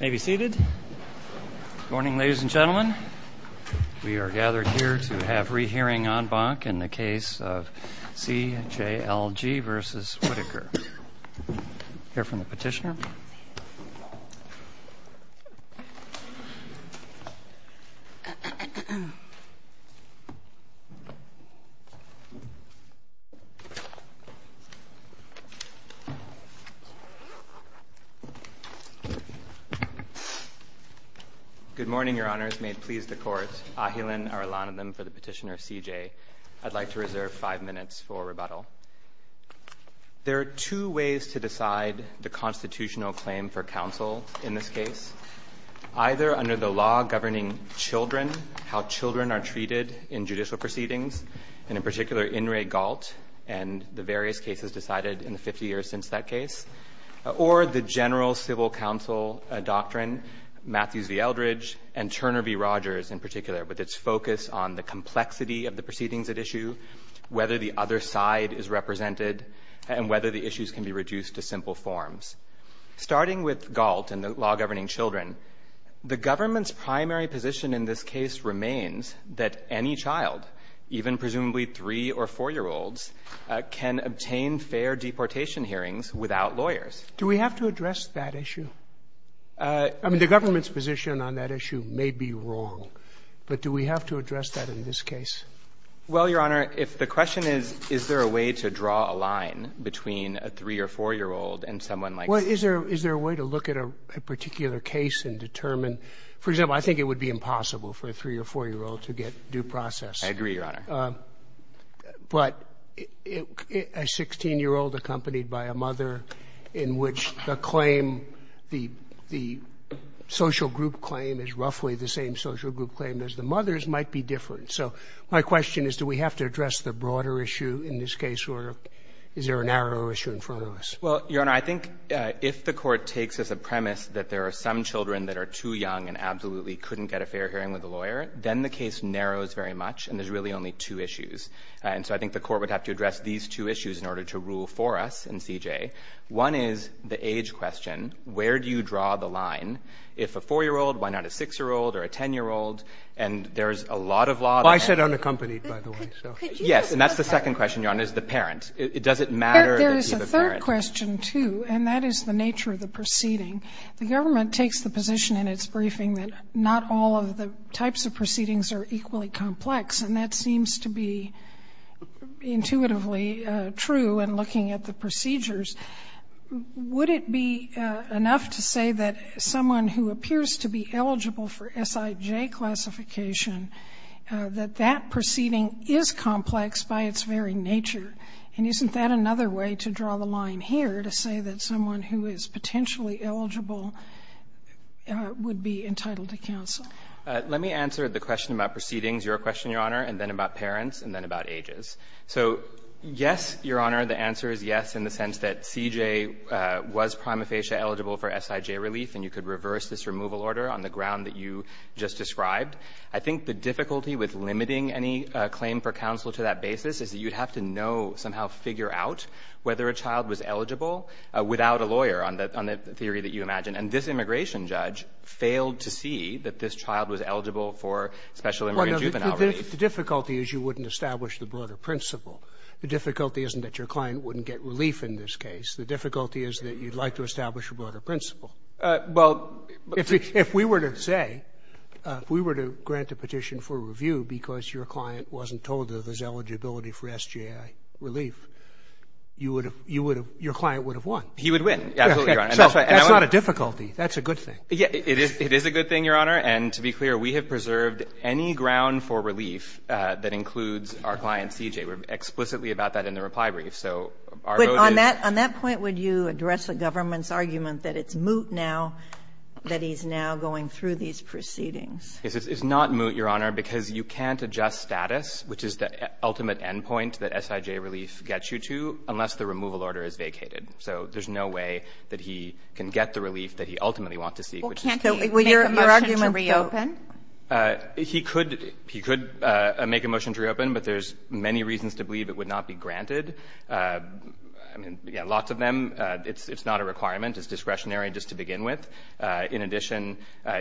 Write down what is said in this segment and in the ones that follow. May be seated. Good morning, ladies and gentlemen. We are gathered here to have rehearing en banc in the case of C.J.L.G. v. Whitaker. Hear from the petitioner. Good morning, Your Honors. May it please the Court. Ahilan Arulanan for the petitioner of C.J. I'd like to reserve five minutes for rebuttal. There are two ways to decide the constitutional claim for counsel in this case, either under the law governing children, how children are treated in judicial proceedings, and in particular In re Galt and the various cases decided in the 50 years since that case, or the general civil counsel doctrine, Matthews v. Eldridge, and Turner v. Rogers, in particular, with its focus on the complexity of the proceedings at issue, whether the other side is represented, and whether the issues can be reduced to simple forms. Starting with Galt and the law governing children, the government's primary position in this case remains that any child, even presumably 3- or 4-year-olds, can obtain fair deportation hearings without lawyers. Do we have to address that issue? I mean, the government's position on that issue may be wrong, but do we have to address that in this case? Well, Your Honor, if the question is, is there a way to draw a line between a 3- or 4-year-old and someone like this? Well, is there a way to look at a particular case and determine? For example, I think it would be impossible for a 3- or 4-year-old to get due process. I agree, Your Honor. But a 16-year-old accompanied by a mother in which the claim, the social group claim is roughly the same social group claim as the mother's might be different. So my question is, do we have to address the broader issue in this case, or is there a narrower issue in front of us? Well, Your Honor, I think if the Court takes as a premise that there are some children that are too young and absolutely couldn't get a fair hearing with a lawyer, then the case narrows very much, and there's really only two issues. And so I think the Court would have to address these two issues in order to rule for us in C.J. One is the age question. Where do you draw the line if a 4-year-old, why not a 6-year-old or a 10-year-old? And there's a lot of law there. I said unaccompanied, by the way, so. Yes. And that's the second question, Your Honor, is the parent. Does it matter that he's the parent? There is a third question, too, and that is the nature of the proceeding. The government takes the position in its briefing that not all of the types of proceedings are equally complex, and that seems to be intuitively true in looking at the procedures. Would it be enough to say that someone who appears to be eligible for S.I.J. classification, that that proceeding is complex by its very nature? And isn't that another way to draw the line here, to say that someone who is potentially eligible would be entitled to counsel? Let me answer the question about proceedings, Your Question, Your Honor, and then about parents and then about ages. So, yes, Your Honor, the answer is yes in the sense that C.J. was prima facie eligible for S.I.J. relief, and you could reverse this removal order on the ground that you just described. I think the difficulty with limiting any claim for counsel to that basis is that you'd have to know, somehow figure out, whether a child was eligible without a lawyer on the theory that you imagine. And this immigration judge failed to see that this child was eligible for special immigrant juvenile relief. The difficulty is you wouldn't establish the broader principle. The difficulty isn't that your client wouldn't get relief in this case. The difficulty is that you'd like to establish a broader principle. Well, but the ---- If we were to say, if we were to grant a petition for review because your client wasn't told that there's eligibility for S.J.I. relief, you would have — your client would have won. He would win, absolutely, Your Honor. So that's not a difficulty. That's a good thing. It is a good thing, Your Honor. And to be clear, we have preserved any ground for relief that includes our client C.J. We're explicitly about that in the reply brief. So our vote is — But on that point, would you address the government's argument that it's moot now that he's now going through these proceedings? It's not moot, Your Honor, because you can't adjust status, which is the ultimate endpoint that S.I.J. relief gets you to, unless the removal order is vacated. So there's no way that he can get the relief that he ultimately wants to seek, which is to make a motion to reopen. Well, can't he make a motion to reopen? He could. He could make a motion to reopen, but there's many reasons to believe it would not be granted. I mean, yeah, lots of them. It's not a requirement. It's discretionary just to begin with. In addition,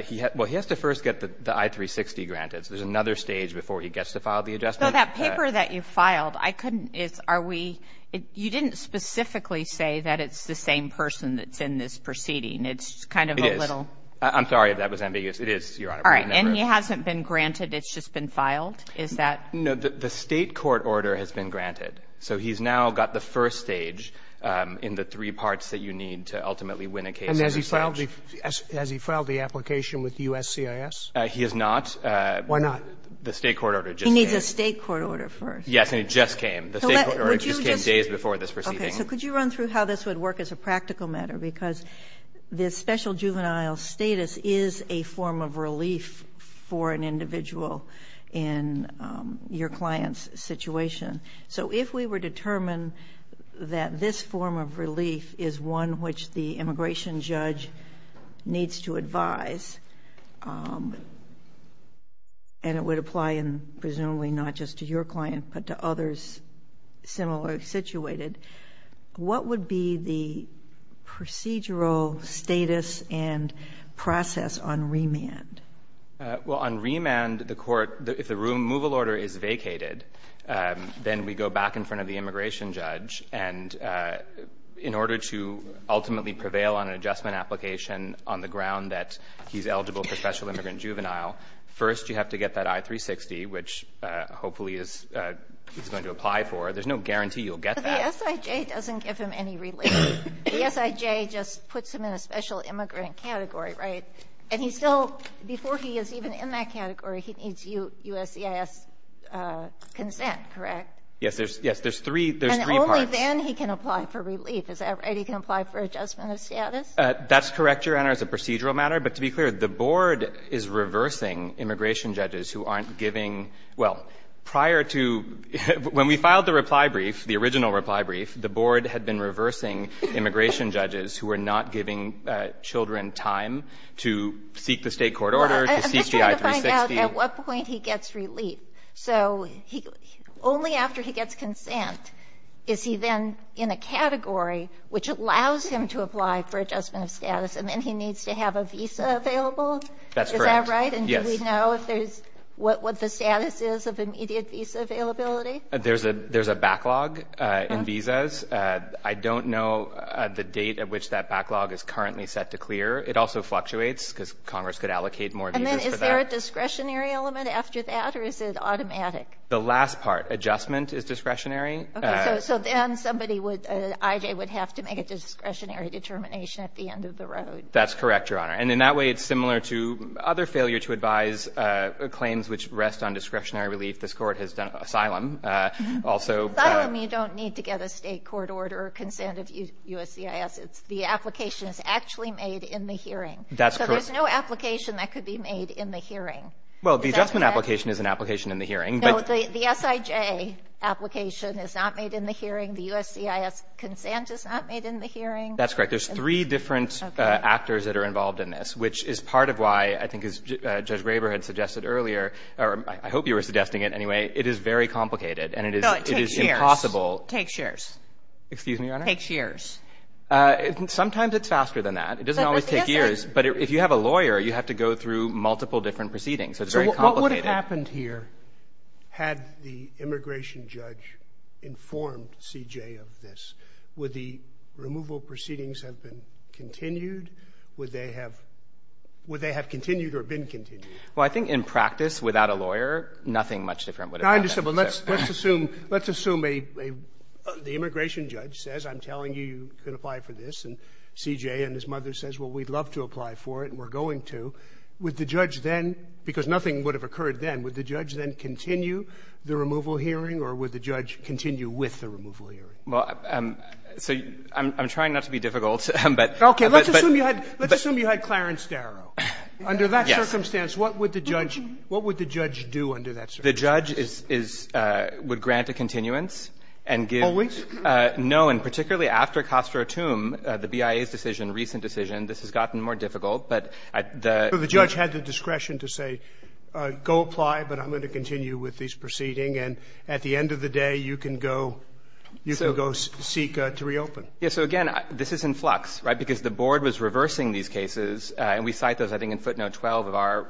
he — well, he has to first get the I-360 granted. So there's another stage before he gets to file the adjustment. So that paper that you filed, I couldn't — it's — are we — you didn't specifically say that it's the same person that's in this proceeding? It's kind of a little — It is. I'm sorry if that was ambiguous. It is, Your Honor. All right. And he hasn't been granted? It's just been filed? Is that — No. The State court order has been granted. So he's now got the first stage in the three parts that you need to ultimately win a case on your stage. And has he filed the — has he filed the application with USCIS? He has not. Why not? The State court order just came. He needs a State court order first. Yes. And it just came. The State court order just came days before this proceeding. So could you run through how this would work as a practical matter? Because this special juvenile status is a form of relief for an individual in your client's situation. So if we were determined that this form of relief is one which the immigration judge needs to advise, and it would apply in — presumably not just to your client, but to others similarly situated, what would be the procedural status and process on remand? Well, on remand, the court — if the removal order is vacated, then we go back in front of the immigration judge. And in order to ultimately prevail on an adjustment application on the ground that he's eligible for special immigrant juvenile, first you have to get that I-360, which hopefully is — he's going to apply for. There's no guarantee you'll get that. But the SIJ doesn't give him any relief. The SIJ just puts him in a special immigrant category, right? And he still — before he is even in that category, he needs USCIS consent, correct? Yes. There's — yes, there's three — there's three parts. And only then he can apply for relief. Is that right? He can apply for adjustment of status? That's correct, Your Honor, as a procedural matter. But to be clear, the board is reversing immigration judges who aren't giving — well, prior to — when we filed the reply brief, the original reply brief, the board had been reversing immigration judges who were not giving children time to seek the State court order, to seek the I-360. Well, I'm just trying to find out at what point he gets relief. So he — only after he gets consent is he then in a category which allows him to apply for adjustment of status, and then he needs to have a visa available? That's correct. Is that right? Yes. And do we know if there's — what the status is of immediate visa availability? There's a — there's a backlog in visas. I don't know the date at which that backlog is currently set to clear. It also fluctuates, because Congress could allocate more visas for that. And then is there a discretionary element after that, or is it automatic? The last part, adjustment is discretionary. So then somebody would — an I.J. would have to make a discretionary determination at the end of the road. That's correct, Your Honor. And in that way, it's similar to other failure to advise claims which rest on discretionary relief. This Court has done — asylum also. Asylum, you don't need to get a State court order or consent of USCIS. It's — the application is actually made in the hearing. That's correct. So there's no application that could be made in the hearing. Well, the adjustment application is an application in the hearing. No, the S.I.J. application is not made in the hearing. The USCIS consent is not made in the hearing. That's correct. There's three different actors that are involved in this, which is part of why I think, as Judge Graber had suggested earlier — or I hope you were suggesting it, anyway — it is very complicated, and it is — No, it takes years. — it is impossible — Takes years. Excuse me, Your Honor? Takes years. Sometimes it's faster than that. It doesn't always take years. But if you have a lawyer, you have to go through multiple different proceedings. So it's very complicated. What would have happened here had the immigration judge informed C.J. of this? Would the removal proceedings have been continued? Would they have — would they have continued or been continued? Well, I think in practice, without a lawyer, nothing much different would have happened. I understand. Well, let's assume — let's assume a — the immigration judge says, I'm telling you you can apply for this, and C.J. and his mother says, well, we'd love to apply for it, and we're going to. Would the judge then — because nothing would have occurred then — would the judge then continue the removal hearing, or would the judge continue with the removal hearing? Well, so I'm trying not to be difficult, but — Okay. Let's assume you had — let's assume you had Clarence Darrow. Under that circumstance, what would the judge — what would the judge do under that circumstance? The judge is — would grant a continuance and give — Always? No. And particularly after Castro Tum, the BIA's decision, recent decision, this has gotten more difficult. But the — So the judge had the discretion to say, go apply, but I'm going to continue with these proceedings. And at the end of the day, you can go — you can go seek to reopen. Yeah. So again, this is in flux, right, because the board was reversing these cases, and we cite those, I think, in footnote 12 of our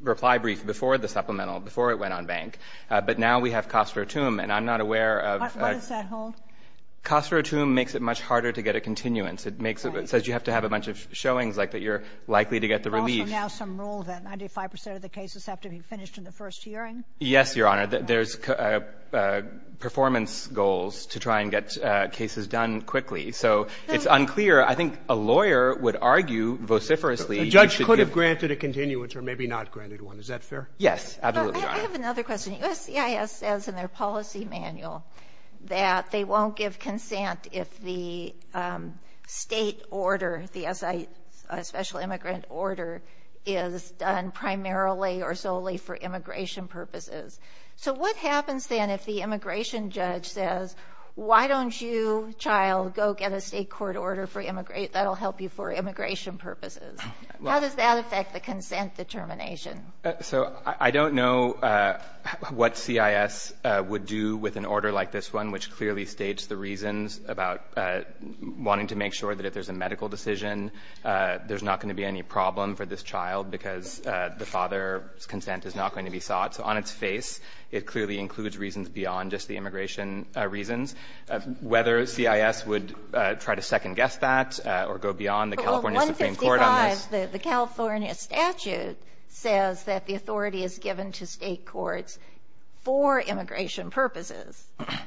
reply brief before the supplemental, before it went on bank. But now we have Castro Tum, and I'm not aware of — What does that hold? Castro Tum makes it much harder to get a continuance. It makes it — it says you have to have a bunch of showings, like, that you're likely to get the relief. There's also now some rule that 95 percent of the cases have to be finished in the first hearing? Yes, Your Honor. There's performance goals to try and get cases done quickly. So it's unclear. I think a lawyer would argue vociferously — The judge could have granted a continuance or maybe not granted one. Is that fair? Yes. Absolutely, Your Honor. I have another question. The USCIS says in their policy manual that they won't give consent if the state order, the SI, Special Immigrant Order, is done primarily or solely for immigration purposes. So what happens then if the immigration judge says, why don't you, child, go get a state court order for — that'll help you for immigration purposes? How does that affect the consent determination? So I don't know what CIS would do with an order like this one, which clearly states the reasons about wanting to make sure that if there's a medical decision, there's not going to be any problem for this child because the father's consent is not going to be sought. So on its face, it clearly includes reasons beyond just the immigration reasons. Whether CIS would try to second-guess that or go beyond the California Supreme Court on this — The question was that the authority is given to state courts for immigration purposes.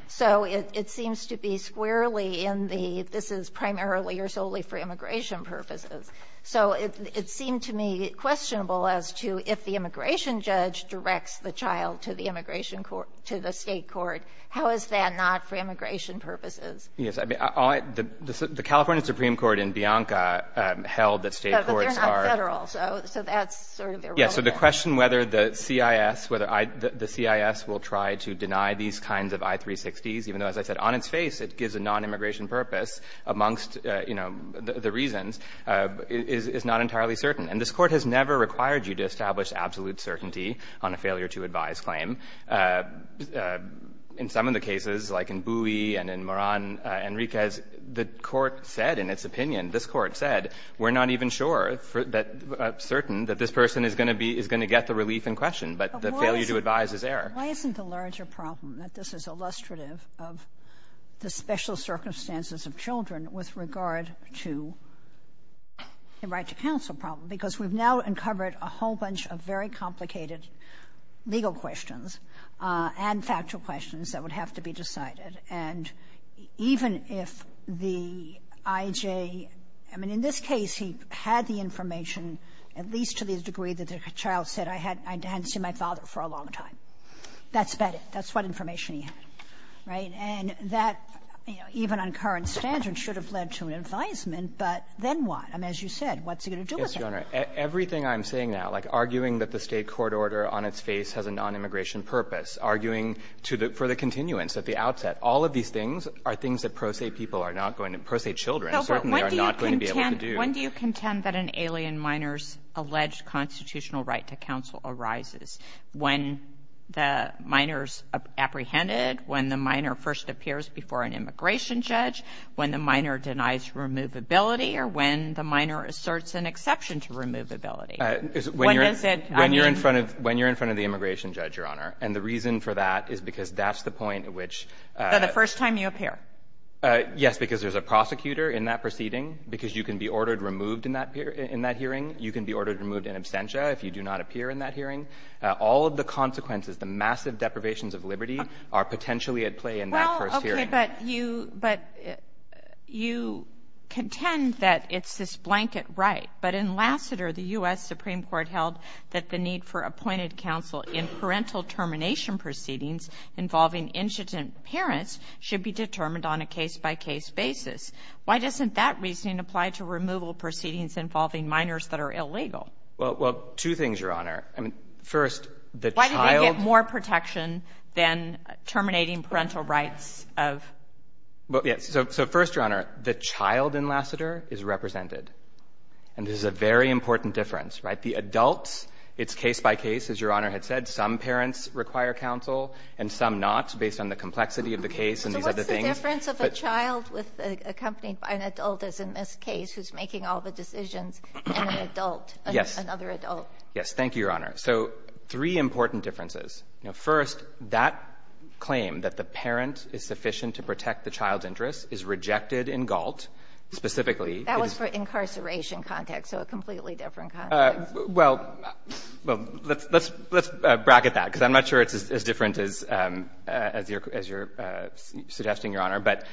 So it seems to be squarely in the, this is primarily or solely for immigration purposes. So it seemed to me questionable as to if the immigration judge directs the child to the immigration court — to the state court, how is that not for immigration purposes? Yes. I mean, the California Supreme Court in Bianca held that state courts are — Yes. So the question whether the CIS, whether the CIS will try to deny these kinds of I-360s, even though, as I said, on its face it gives a nonimmigration purpose amongst, you know, the reasons, is not entirely certain. And this Court has never required you to establish absolute certainty on a failure to advise claim. In some of the cases, like in Bui and in Moran Enriquez, the Court said in its opinion, this Court said, we're not even sure that — certain that this person is going to be — is going to get the relief in question, but the failure to advise is error. But why isn't the larger problem that this is illustrative of the special circumstances of children with regard to the right-to-counsel problem? Because we've now uncovered a whole bunch of very complicated legal questions and factual questions that would have to be decided. And even if the I.J. — I mean, in this case, he had the information at least to the degree that the child said, I hadn't seen my father for a long time. That's about it. That's what information he had. Right? And that, you know, even on current standards, should have led to an advisement. But then what? I mean, as you said, what's it going to do with him? Burschel. Yes, Your Honor. Everything I'm saying now, like arguing that the State court order on its face has a nonimmigration purpose, arguing to the — for the continuance at the outset, all of these things are things that pro se people are not going to — pro se children certainly are not going to be able to do. When do you contend that an alien minor's alleged constitutional right to counsel arises? When the minor's apprehended, when the minor first appears before an immigration judge, when the minor denies removability, or when the minor asserts an exception to removability? When you're in front of — when you're in front of the immigration judge, Your Honor. And the reason for that is because that's the point at which — The first time you appear. Yes, because there's a prosecutor in that proceeding, because you can be ordered removed in that hearing. You can be ordered removed in absentia if you do not appear in that hearing. All of the consequences, the massive deprivations of liberty are potentially at play in that first hearing. Well, OK, but you — but you contend that it's this blanket right. But in Lassiter, the U.S. Supreme Court held that the need for appointed counsel in parental termination proceedings involving incident parents should be determined on a case-by-case basis. Why doesn't that reasoning apply to removal proceedings involving minors that are illegal? Well, two things, Your Honor. I mean, first, the child — Why do they get more protection than terminating parental rights of — Well, yes. So first, Your Honor, the child in Lassiter is represented. And this is a very important difference, right? The adults, it's case-by-case. As Your Honor had said, some parents require counsel and some not, based on the complexity of the case and these other things. So what's the difference of a child accompanied by an adult, as in this case, who's making all the decisions, and an adult, another adult? Yes. Yes. Thank you, Your Honor. So three important differences. First, that claim that the parent is sufficient to protect the child's interests is rejected in Galt. Specifically, it is — That was for incarceration context, so a completely different context. Well, let's bracket that, because I'm not sure it's as different as you're suggesting, Your Honor. But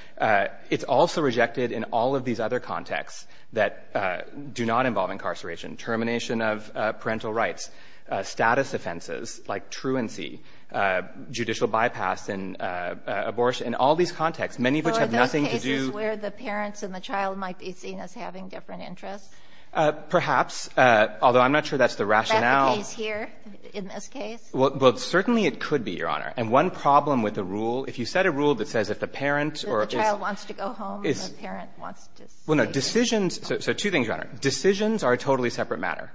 it's also rejected in all of these other contexts that do not involve incarceration, termination of parental rights, status offenses like truancy, judicial bypass and abortion, in all these contexts, many of which have nothing to do — So are those cases where the parents and the child might be seen as having different interests? Perhaps, although I'm not sure that's the rationale. Is that the case here, in this case? Well, certainly it could be, Your Honor. And one problem with the rule — if you set a rule that says if the parent or — The child wants to go home and the parent wants to stay. Well, no, decisions — so two things, Your Honor. Decisions are a totally separate matter,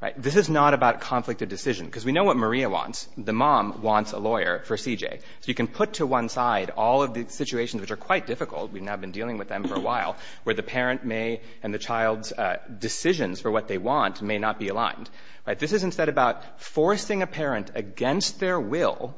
right? This is not about conflict of decision, because we know what Maria wants. The mom wants a lawyer for CJ. So you can put to one side all of the situations, which are quite difficult — we've been dealing with them for a while — where the parent may — and the child's decisions for what they want may not be aligned, right? This is instead about forcing a parent against their will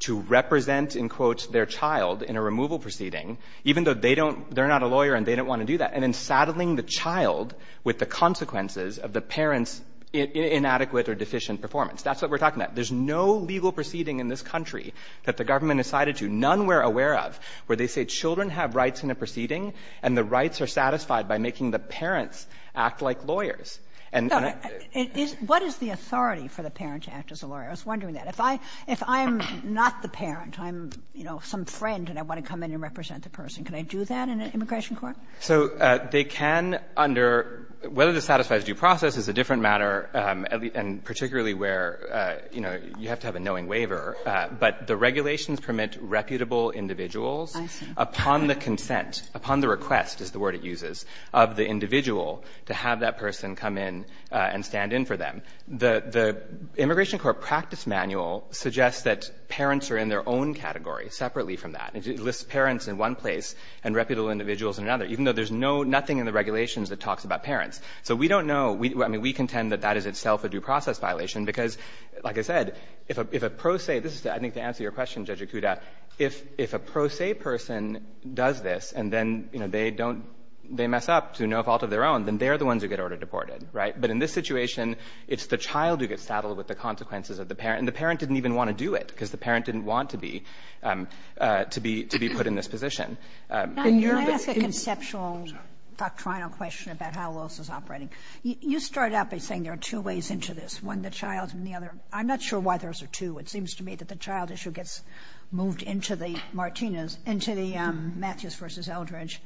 to represent, in quotes, their child in a removal proceeding, even though they don't — they're not a lawyer and they don't want to do that, and then saddling the child with the consequences of the parent's inadequate or deficient performance. That's what we're talking about. There's no legal proceeding in this country that the government has sided to, none we're aware of, where they say children have rights in a proceeding and the rights are satisfied by making the parents act like lawyers. And — Kagan. What is the authority for the parent to act as a lawyer? I was wondering that. If I — if I'm not the parent, I'm, you know, some friend and I want to come in and represent the person, can I do that in an immigration court? So they can under — whether this satisfies due process is a different matter, and particularly where, you know, you have to have a knowing waiver. But the regulations permit reputable individuals upon the consent, upon the request is the word it uses, of the individual to have that person come in and stand in for them. The — the Immigration Court practice manual suggests that parents are in their own category, separately from that. It lists parents in one place and reputable individuals in another, even though there's no — nothing in the regulations that talks about parents. So we don't know. I mean, we contend that that is itself a due process violation, because, like I said, if a — if a pro se — this is, I think, to answer your question, Judge Ikuda. If — if a pro se person does this, and then, you know, they don't — they mess up to no fault of their own, then they're the ones who get order-deported, right? But in this situation, it's the child who gets saddled with the consequences of the parent. And the parent didn't even want to do it, because the parent didn't want to be — to be — to be put in this position. And you're — You ask a conceptual doctrinal question about how a law is operating. You start out by saying there are two ways into this, one the child and the other. I'm not sure why there's a two. It seems to me that the child issue gets moved into the Martinez — into the Matthews versus Eldridge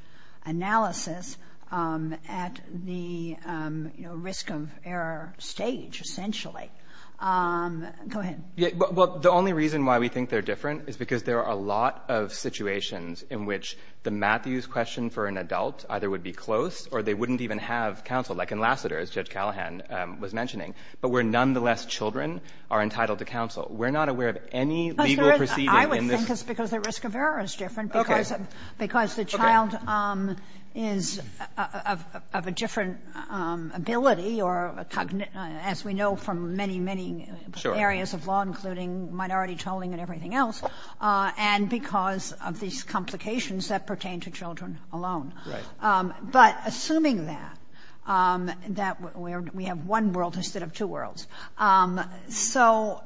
analysis at the, you know, risk of error stage, essentially. Go ahead. Yeah. Well, the only reason why we think they're different is because there are a lot of situations in which the Matthews question for an adult either would be close or they wouldn't even have counsel, like in Lassiter, as Judge Callahan was mentioning. But where, nonetheless, children are entitled to counsel. We're not aware of any legal proceeding in this — Because there is — I would think it's because the risk of error is different, because the child is of a different ability or a — as we know from many, many areas of law, including minority tolling and everything else, and because of these complications that pertain to children alone. Right. But assuming that, that we have one world instead of two worlds, so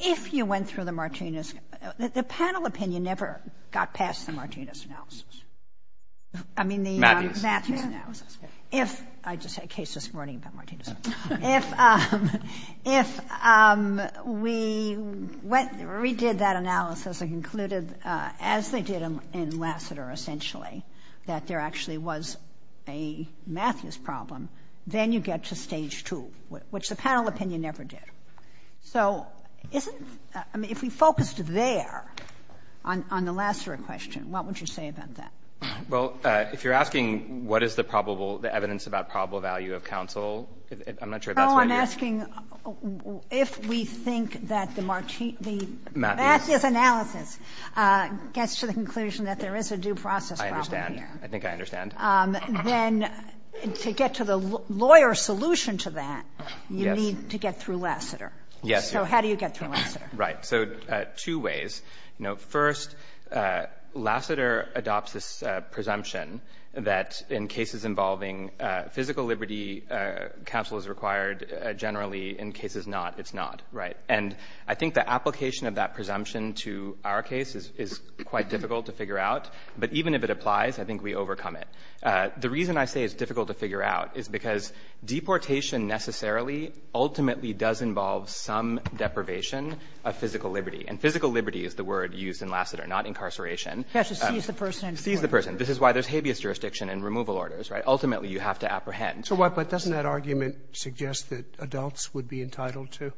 if you went through the Martinez — the panel opinion never got past the Martinez analysis. I mean, the — Matthews. Matthews analysis. If — I just had cases running about Martinez. If we went — redid that analysis and concluded, as they did in Lassiter, essentially, that there actually was a Matthews problem, then you get to Stage 2, which the panel opinion never did. So isn't — I mean, if we focused there on the Lassiter question, what would you say about that? Well, if you're asking what is the probable — the evidence about probable value of counsel, I'm not sure if that's what you're — No. I'm asking if we think that the Martinez — the Matthews analysis gets to the conclusion that there is a due process problem. I think I understand. Then to get to the lawyer solution to that, you need to get through Lassiter. Yes. So how do you get through Lassiter? Right. So two ways. You know, first, Lassiter adopts this presumption that in cases involving physical liberty, counsel is required generally. In cases not, it's not. Right. And I think the application of that presumption to our case is quite difficult to figure out. But even if it applies, I think we overcome it. The reason I say it's difficult to figure out is because deportation necessarily ultimately does involve some deprivation of physical liberty. And physical liberty is the word used in Lassiter, not incarceration. You have to seize the person and — Seize the person. This is why there's habeas jurisdiction and removal orders, right? Ultimately, you have to apprehend. So why — but doesn't that argument suggest that adults would be entitled to?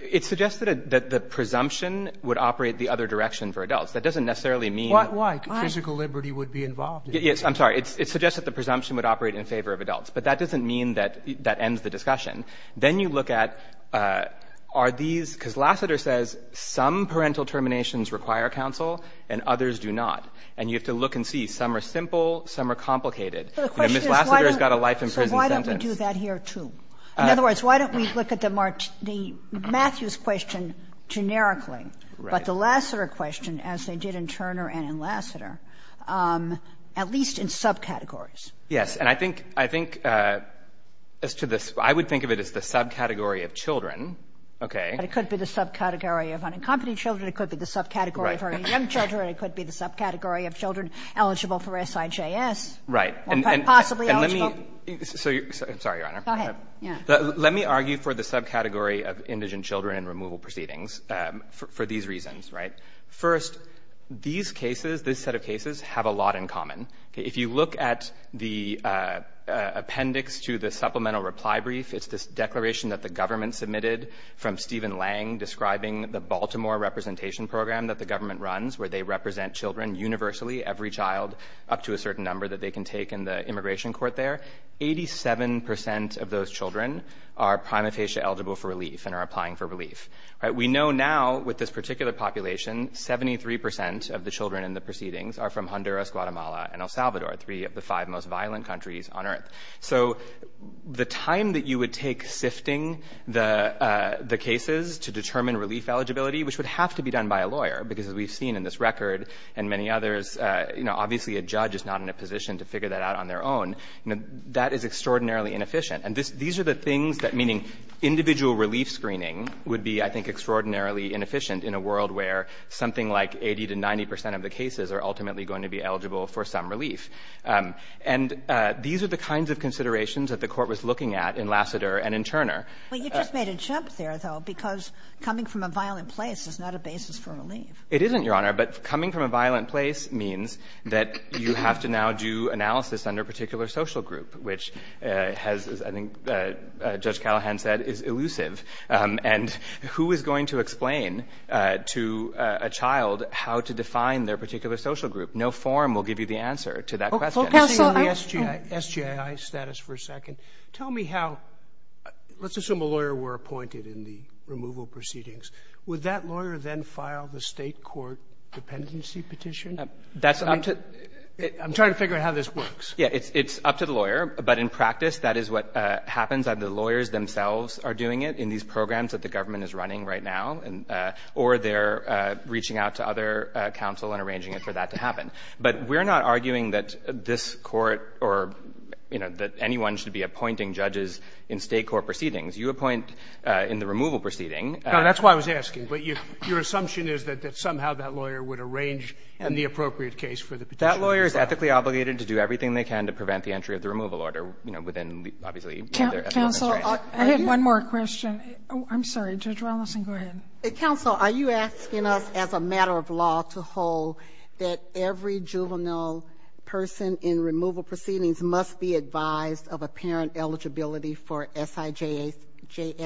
It suggests that the presumption would operate the other direction for adults. That doesn't necessarily mean — Why? Physical liberty would be involved. Yes. I'm sorry. It suggests that the presumption would operate in favor of adults. But that doesn't mean that that ends the discussion. Then you look at, are these — because Lassiter says some parental terminations require counsel and others do not. And you have to look and see. Some are simple. Some are complicated. You know, Ms. Lassiter has got a life in prison sentence. So why don't we do that here, too? In other words, why don't we look at the Matthews question generically, but the Lassiter question, as they did in Turner and in Lassiter, at least in subcategories? Yes. And I think — I think as to the — I would think of it as the subcategory of children. Okay. But it could be the subcategory of unaccompanied children. It could be the subcategory of early young children. It could be the subcategory of children eligible for SIJS. Right. Or possibly eligible. And let me — I'm sorry, Your Honor. Go ahead. Yeah. Let me argue for the subcategory of indigent children in removal proceedings for these reasons, right? First, these cases, this set of cases, have a lot in common. If you look at the appendix to the supplemental reply brief, it's this declaration that the government submitted from Stephen Lang describing the Baltimore representation program that the government runs where they represent children universally, every child up to a certain number that they can take in the immigration court there. Eighty-seven percent of those children are prima facie eligible for relief and are applying for relief. Right. We know now with this particular population, 73 percent of the children in the proceedings are from Honduras, Guatemala, and El Salvador, three of the five most violent countries on Earth. So the time that you would take sifting the cases to determine relief eligibility, which would have to be done by a lawyer, because as we've seen in this record and many others, obviously a judge is not in a position to figure that out on their own. That is extraordinarily inefficient. In a world where something like 80 to 90 percent of the cases are ultimately going to be eligible for some relief. And these are the kinds of considerations that the Court was looking at in Lassiter and in Turner. Well, you just made a jump there, though, because coming from a violent place is not a basis for relief. It isn't, Your Honor. But coming from a violent place means that you have to now do analysis under a particular social group, which has, as I think Judge Callahan said, is elusive. And who is going to explain to a child how to define their particular social group? No form will give you the answer to that question. Counsel, I was just saying on the SJI status for a second, tell me how, let's assume a lawyer were appointed in the removal proceedings. Would that lawyer then file the state court dependency petition? I'm trying to figure out how this works. Yeah, it's up to the lawyer. But in practice, that is what happens. Either the lawyers themselves are doing it in these programs that the government is running right now, or they're reaching out to other counsel and arranging it for that to happen. But we're not arguing that this Court or, you know, that anyone should be appointing judges in state court proceedings. You appoint in the removal proceeding. No, that's why I was asking. But your assumption is that somehow that lawyer would arrange in the appropriate case for the petition. That lawyer is ethically obligated to do everything they can to prevent the entry of the removal order, you know, within, obviously, their ethics. I had one more question. I'm sorry. Judge Wallison, go ahead. Counsel, are you asking us as a matter of law to hold that every juvenile person in removal proceedings must be advised of a parent eligibility for SIJS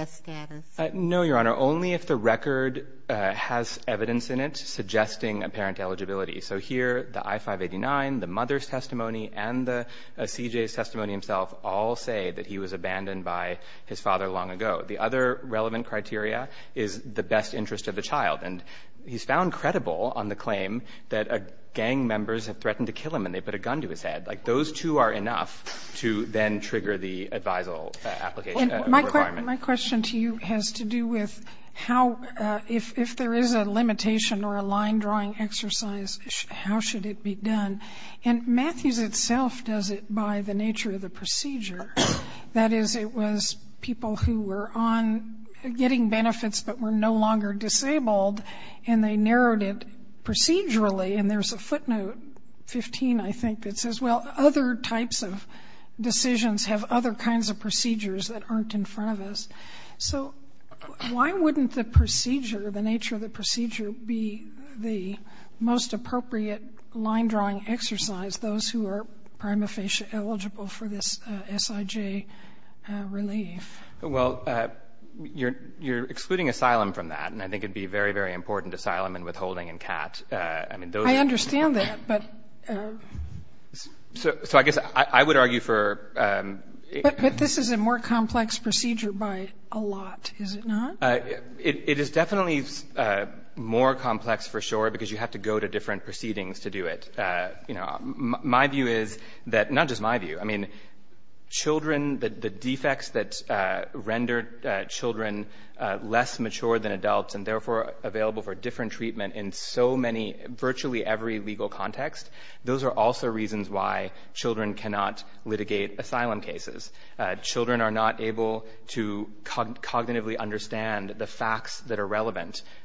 status? No, Your Honor. Only if the record has evidence in it suggesting a parent eligibility. So here, the I-589, the mother's testimony, and the CJ's testimony himself all say that he was abandoned by his father long ago. The other relevant criteria is the best interest of the child. And he's found credible on the claim that gang members have threatened to kill him and they put a gun to his head. Like, those two are enough to then trigger the advisal application requirement. My question to you has to do with how, if there is a limitation or a line-drawing exercise, how should it be done? And Matthews itself does it by the nature of the procedure. That is, it was people who were on getting benefits but were no longer disabled and they narrowed it procedurally. And there's a footnote, 15, I think, that says, well, other types of decisions have other kinds of procedures that aren't in front of us. So why wouldn't the procedure, the nature of the procedure, be the most appropriate line-drawing exercise, those who are prima facie eligible for this SIJ relief? Well, you're excluding asylum from that. And I think it'd be very, very important, asylum and withholding and CAT. I understand that, but... So I guess I would argue for... But this is a more complex procedure by a lot, is it not? It is definitely more complex for sure because you have to go to different proceedings to do it. My view is that... Not just my view. I mean, children, the defects that render children less mature than adults and therefore available for different treatment in so many, virtually every legal context, those are also reasons why children cannot litigate asylum cases.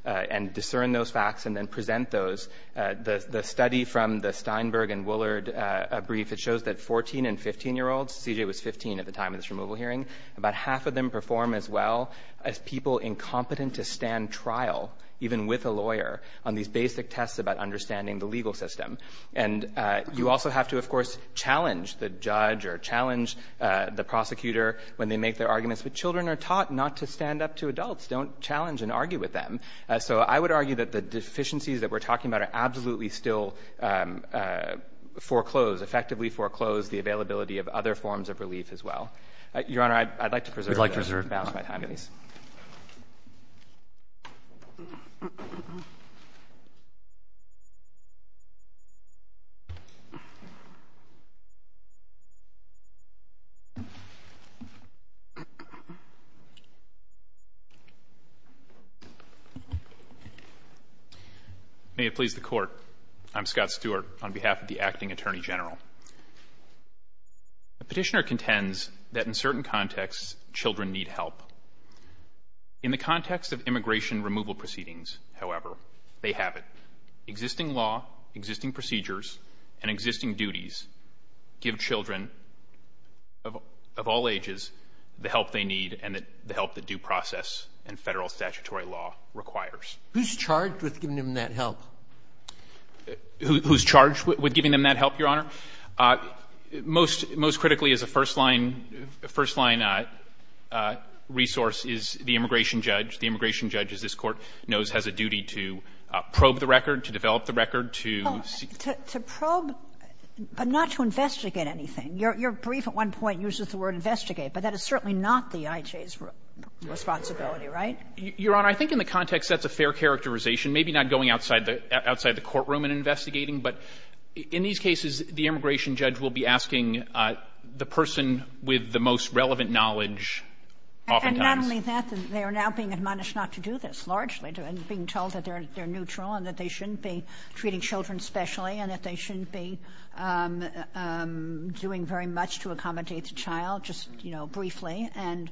And discern those facts and then present those. The study from the Steinberg and Woollard brief, it shows that 14 and 15-year-olds, CJ was 15 at the time of this removal hearing, about half of them perform as well as people incompetent to stand trial, even with a lawyer, on these basic tests about understanding the legal system. And you also have to, of course, challenge the judge or challenge the prosecutor when they make their arguments. But children are taught not to stand up to adults. Don't challenge and argue with them. So I would argue that the deficiencies that we're talking about are absolutely still foreclosed, effectively foreclosed the availability of other forms of relief as well. Your Honor, I'd like to preserve my time, please. May it please the Court. I'm Scott Stewart on behalf of the Acting Attorney General. The petitioner contends that in certain contexts, children need help. In the context of immigration removal proceedings, however, they have it. Existing law, existing procedures, and existing duties give children of all ages the help they need and the help that due process and Federal statutory law requires. Who's charged with giving them that help? Who's charged with giving them that help, Your Honor? Most critically as a first-line resource is the immigration judge. The immigration judge, as this Court knows, has a duty to probe the record, to develop the record, to seek the record. To probe, but not to investigate anything. Your brief at one point uses the word investigate. But that is certainly not the IJ's responsibility, right? Your Honor, I think in the context, that's a fair characterization. Maybe not going outside the courtroom and investigating. But in these cases, the immigration judge will be asking the person with the most relevant knowledge oftentimes. And not only that, they are now being admonished not to do this, largely, and being told that they're neutral and that they shouldn't be treating children specially and that they shouldn't be doing very much to accommodate the child, just, you know, briefly. And,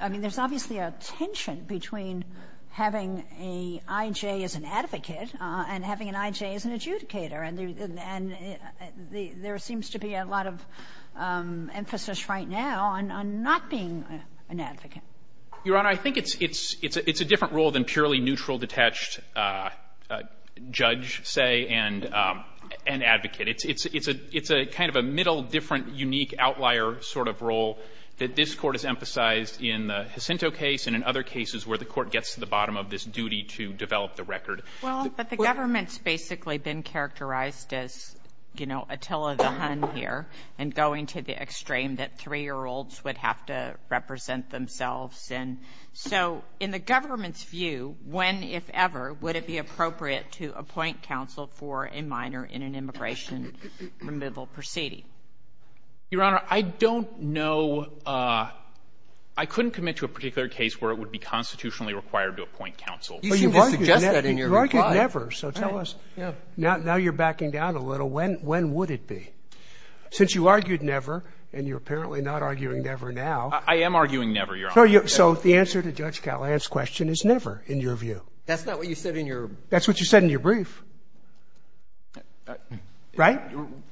I mean, there's obviously a tension between having an IJ as an advocate and having an IJ as an adjudicator. And there seems to be a lot of emphasis right now on not being an advocate. Your Honor, I think it's a different role than purely neutral, detached, judge say, and advocate. It's a kind of a middle, different, unique outlier sort of role that this Court has emphasized in the Jacinto case and in other cases where the Court gets to the bottom of this duty to develop the record. Well, but the government's basically been characterized as, you know, Attila the Hun here, and going to the extreme that 3-year-olds would have to represent themselves. And so in the government's view, when, if ever, would it be appropriate to appoint counsel for a minor in an immigration removal proceeding? Your Honor, I don't know. I couldn't commit to a particular case where it would be constitutionally required to appoint counsel. You seem to suggest that in your reply. You argued never. So tell us, now you're backing down a little, when would it be? Since you argued never, and you're apparently not arguing never now. I am arguing never, Your Honor. So the answer to Judge Callahan's question is never, in your view. That's not what you said in your- That's what you said in your brief. Right?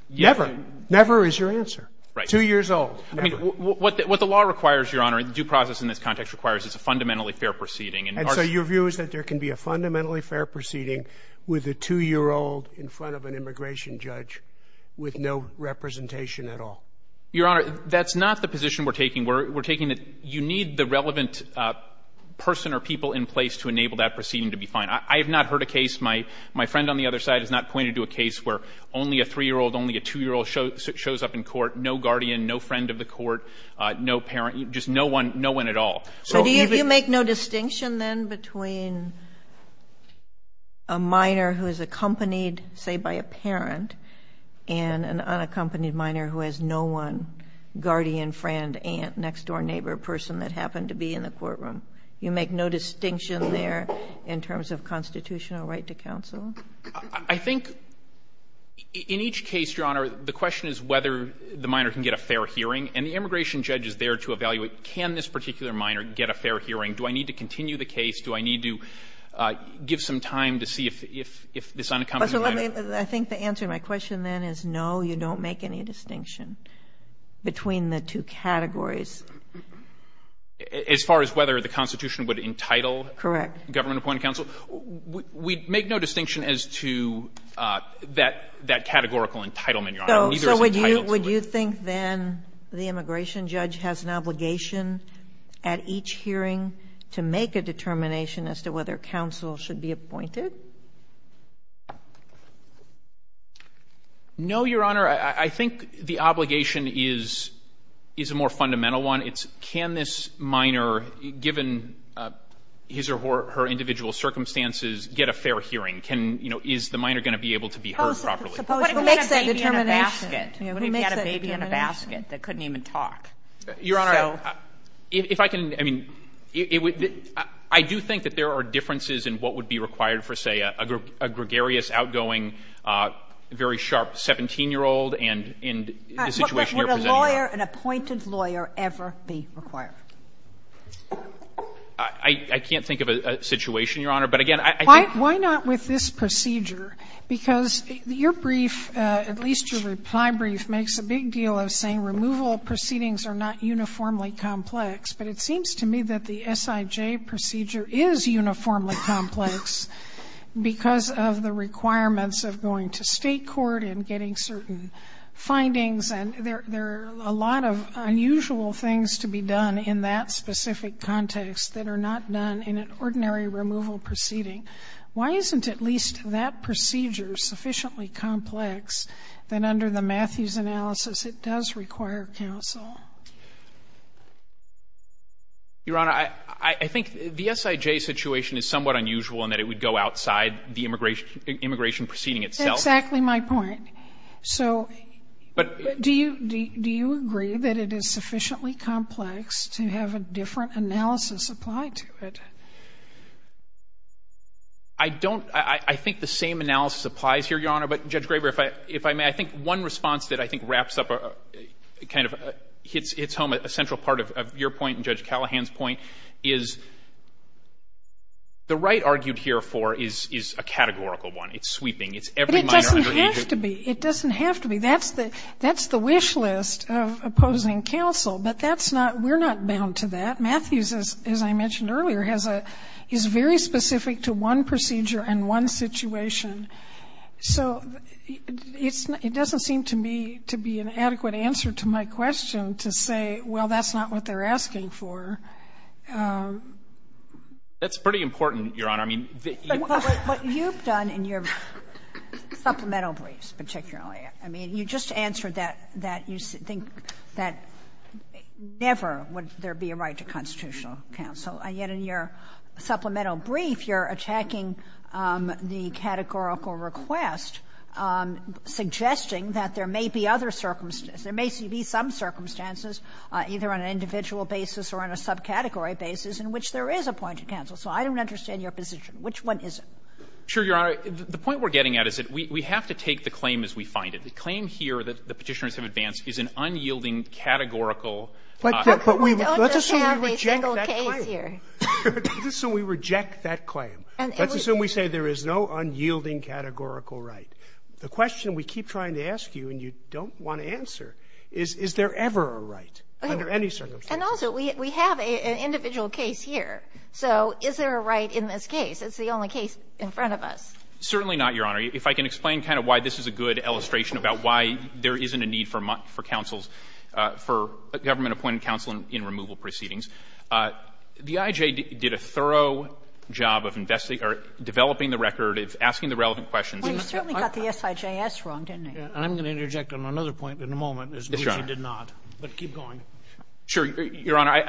Never. Never is your answer. Right. Two years old. Never. What the law requires, Your Honor, and due process in this context requires is a fundamentally fair proceeding. And so your view is that there can be a fundamentally fair proceeding with a 2-year-old in front of an immigration judge with no representation at all? Your Honor, that's not the position we're taking. We're taking that you need the relevant person or people in place to enable that proceeding to be fine. I have not heard a case, my friend on the other side has not pointed to a case where only a 3-year-old, only a 2-year-old shows up in court, no guardian, no friend of the court, no parent, just no one, no one at all. So even- So do you make no distinction then between a minor who is accompanied, say, by a parent and an unaccompanied minor who has no one, guardian, friend, aunt, next-door neighbor, person that happened to be in the courtroom? You make no distinction there in terms of constitutional right to counsel? I think in each case, Your Honor, the question is whether the minor can get a fair hearing, and the immigration judge is there to evaluate can this particular minor get a fair hearing, do I need to continue the case, do I need to give some time to see if this unaccompanied minor- I think the answer to my question then is no, you don't make any distinction between the two categories. As far as whether the Constitution would entitle- Correct. Government-appointed counsel. We make no distinction as to that categorical entitlement, Your Honor. So would you think then the immigration judge has an obligation at each hearing to give a fair hearing to the unaccompanied minor who has no one, guardian, friend, next-door neighbor, person that happened to be in the courtroom? No, Your Honor, I think the obligation is a more fundamental one, it's can this minor, given his or her individual circumstances, get a fair hearing, can, you know, is the minor going to be able to be heard properly? But what if he had a baby in a basket? What if he had a baby in a basket that couldn't even talk? Your Honor, if I can, I mean, I do think that there are differences in what would be required for, say, a gregarious, outgoing, very sharp 17-year-old and in the situation you're presenting now. Would a lawyer, an appointed lawyer, ever be required? I can't think of a situation, Your Honor, but again, I think- Why not with this procedure? Because your brief, at least your reply brief, makes a big deal of saying removal proceedings are not uniformly complex, but it seems to me that the SIJ procedure is uniformly complex because of the requirements of going to state court and getting certain findings, and there are a lot of unusual things to be done in that specific context that are not done in an ordinary removal proceeding. Why isn't at least that procedure sufficiently complex that under the Matthews analysis it does require counsel? Your Honor, I think the SIJ situation is somewhat unusual in that it would go outside the immigration proceeding itself. That's exactly my point. So do you agree that it is sufficiently complex to have a different analysis apply to it? I don't. I think the same analysis applies here, Your Honor. But, Judge Graber, if I may, I think one response that I think wraps up a kind of hits home, a central part of your point and Judge Callahan's point, is the right argued here for is a categorical one. It's sweeping. It's every minor underagent- It doesn't have to be. That's the wish list of opposing counsel, but that's not we're not bound to that. Matthews, as I mentioned earlier, has a very specific to one procedure and one situation. So it doesn't seem to me to be an adequate answer to my question to say, well, that's not what they're asking for. That's pretty important, Your Honor. I mean, the- But what you've done in your supplemental briefs particularly, I mean, you just answered that you think that never would there be a right to constitutional counsel, and yet in your supplemental brief you're attacking the categorical request, suggesting that there may be other circumstances, there may be some circumstances, either on an individual basis or on a subcategory basis, in which there is appointed counsel. So I don't understand your position. Which one is it? Sure, Your Honor. The point we're getting at is that we have to take the claim as we find it. The claim here that the Petitioners have advanced is an unyielding categorical question. But we don't just have a single case here. Let's assume we reject that claim. Let's assume we say there is no unyielding categorical right. The question we keep trying to ask you and you don't want to answer is, is there ever a right under any circumstance? And also, we have an individual case here. So is there a right in this case? It's the only case in front of us. Certainly not, Your Honor. If I can explain kind of why this is a good illustration about why there isn't a need for counsels, for government-appointed counsel in removal proceedings. The IJ did a thorough job of developing the record, of asking the relevant questions. Well, you certainly got the SIJS wrong, didn't you? I'm going to interject on another point in a moment, as Luigi did not, but keep going. Sure. Your Honor,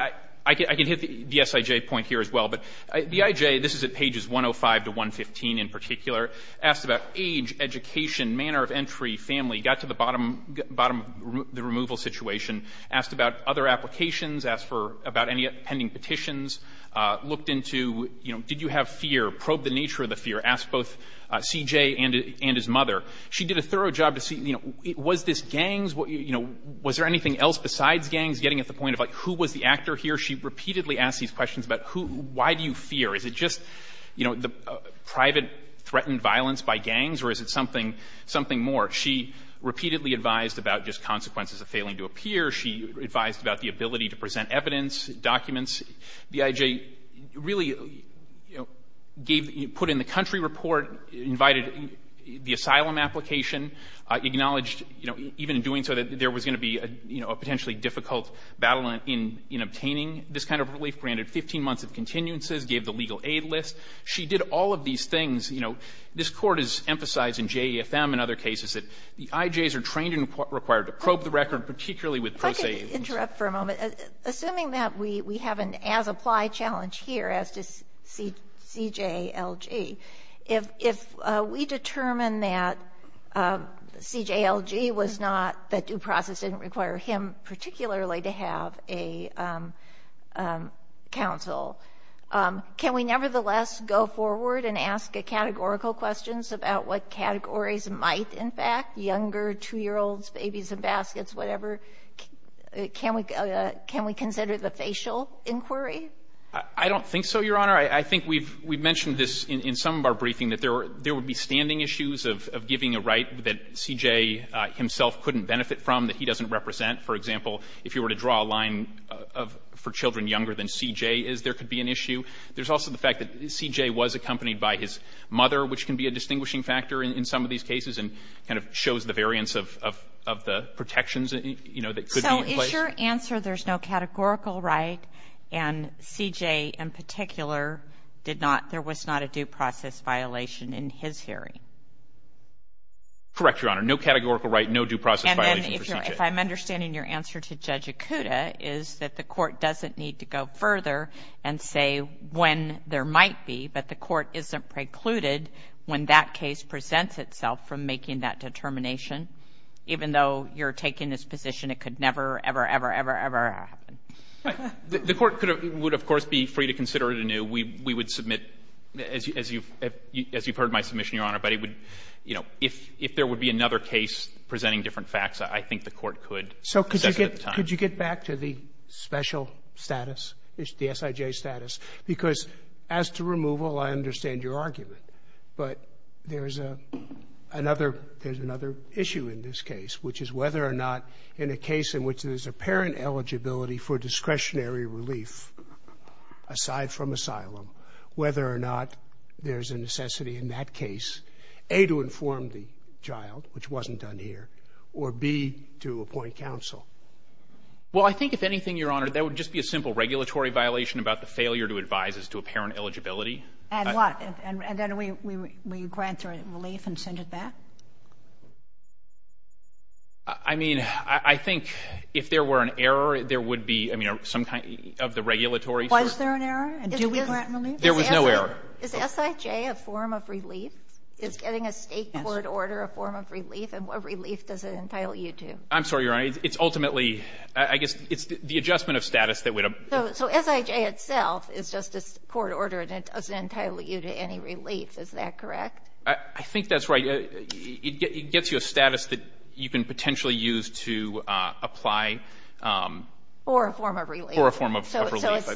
I can hit the SIJ point here as well. But the IJ, this is at pages 105 to 115 in particular, asked about age, education, manner of entry, family, got to the bottom, the removal situation, asked about other applications, asked about any pending petitions, looked into, you know, did you have fear, probed the nature of the fear, asked both C.J. and his mother. She did a thorough job to see, you know, was this gangs, you know, was there anything else besides gangs, getting at the point of, like, who was the actor here? She repeatedly asked these questions about who, why do you fear? Is it just, you know, the private threatened violence by gangs, or is it something more? She repeatedly advised about just consequences of failing to appear. She advised about the ability to present evidence, documents. The IJ really, you know, gave, put in the country report, invited the asylum application, acknowledged, you know, even in doing so, that there was going to be a, you know, a potentially difficult battle in obtaining this kind of relief, granted 15 months of continuances, gave the legal aid list. She did all of these things. You know, this Court has emphasized in JEFM and other cases that the IJs are trained and required to probe the record, particularly with pro se agents. I could interrupt for a moment. Assuming that we have an as-applied challenge here as to C.J.L.G., if we determine that C.J.L.G. was not, that due process didn't require him particularly to have a counsel, can we nevertheless go forward and ask categorical questions about what categories might, in fact, younger, 2-year-olds, babies in baskets, whatever, can we consider the facial inquiry? I don't think so, Your Honor. I think we've mentioned this in some of our briefing, that there would be standing issues of giving a right that C.J. himself couldn't benefit from, that he doesn't represent. For example, if you were to draw a line for children younger than C.J. is, there could be an issue. There's also the fact that C.J. was accompanied by his mother, which can be a distinguishing factor in some of these cases and kind of shows the variance of the protections, you know, that could be in place. So is your answer there's no categorical right and C.J. in particular did not, there was not a due process violation in his hearing? Correct, Your Honor. No categorical right, no due process violation for C.J. And then if I'm understanding your answer to Judge Ikuda is that the court doesn't need to go further and say when there might be, but the court isn't precluded when that case presents itself from making that determination, even though you're taking this position, it could never, ever, ever, ever, ever happen. We would submit, as you've heard my submission, Your Honor, but it would, you know, if there would be another case presenting different facts, I think the court could assess it at the time. So could you get back to the special status, the S.I.J. status, because as to removal, I understand your argument, but there's another issue in this case, which is whether or not in a case in which there's apparent eligibility for discretionary relief aside from asylum, whether or not there's a necessity in that case, A, to inform the child, which wasn't done here, or B, to appoint counsel? Well, I think if anything, Your Honor, there would just be a simple regulatory violation about the failure to advise as to apparent eligibility. And what? And then we grant relief and send it back? I mean, I think if there were an error, there would be, I mean, some kind of the regulatory sort of thing. Was there an error? And do we grant relief? There was no error. Is S.I.J. a form of relief? Is getting a State court order a form of relief, and what relief does it entitle you to? I'm sorry, Your Honor. It's ultimately, I guess, it's the adjustment of status that would have. So S.I.J. itself is just a court order, and it doesn't entitle you to any relief. Is that correct? I think that's right. For a form of relief. So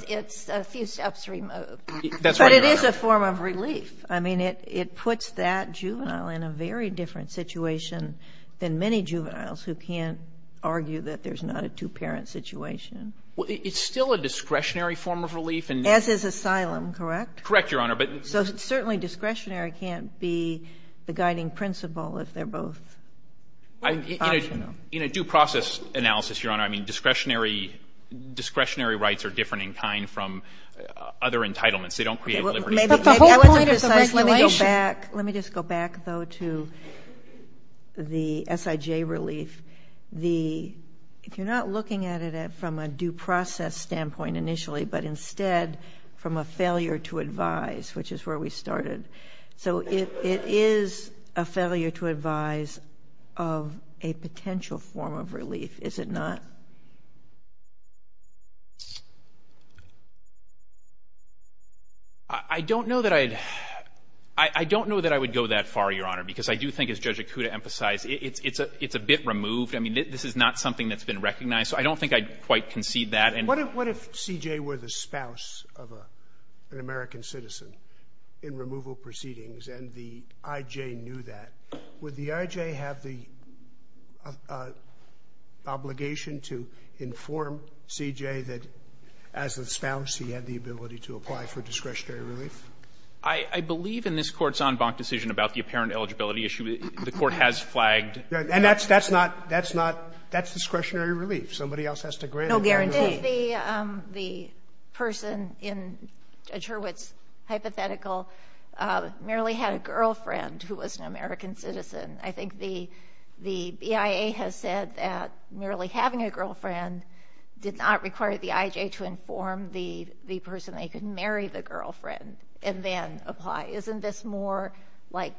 it's a few steps removed. That's right, Your Honor. But it is a form of relief. I mean, it puts that juvenile in a very different situation than many juveniles who can't argue that there's not a two-parent situation. It's still a discretionary form of relief. As is asylum, correct? Correct, Your Honor. So certainly discretionary can't be the guiding principle if they're both optional. In a due process analysis, Your Honor, I mean, discretionary rights are different in kind from other entitlements. They don't create a liberty. But the whole point of the regulation. Let me go back. Let me just go back, though, to the S.I.J. relief. If you're not looking at it from a due process standpoint initially, but instead from a failure to advise, which is where we started. So it is a failure to advise of a potential form of relief, is it not? I don't know that I would go that far, Your Honor, because I do think, as Judge Ikuda emphasized, it's a bit removed. I mean, this is not something that's been recognized. So I don't think I'd quite concede that. What if C.J. were the spouse of an American citizen in removal proceedings and the I.J. knew that? Would the I.J. have the obligation to inform C.J. that, as the spouse, he had the ability to apply for discretionary relief? I believe in this Court's en banc decision about the apparent eligibility issue, the Court has flagged that. Somebody else has to grant it. There's no guarantee. If the person in Judge Hurwitz's hypothetical merely had a girlfriend who was an American citizen, I think the BIA has said that merely having a girlfriend did not require the I.J. to inform the person that he could marry the girlfriend and then apply. Isn't this more like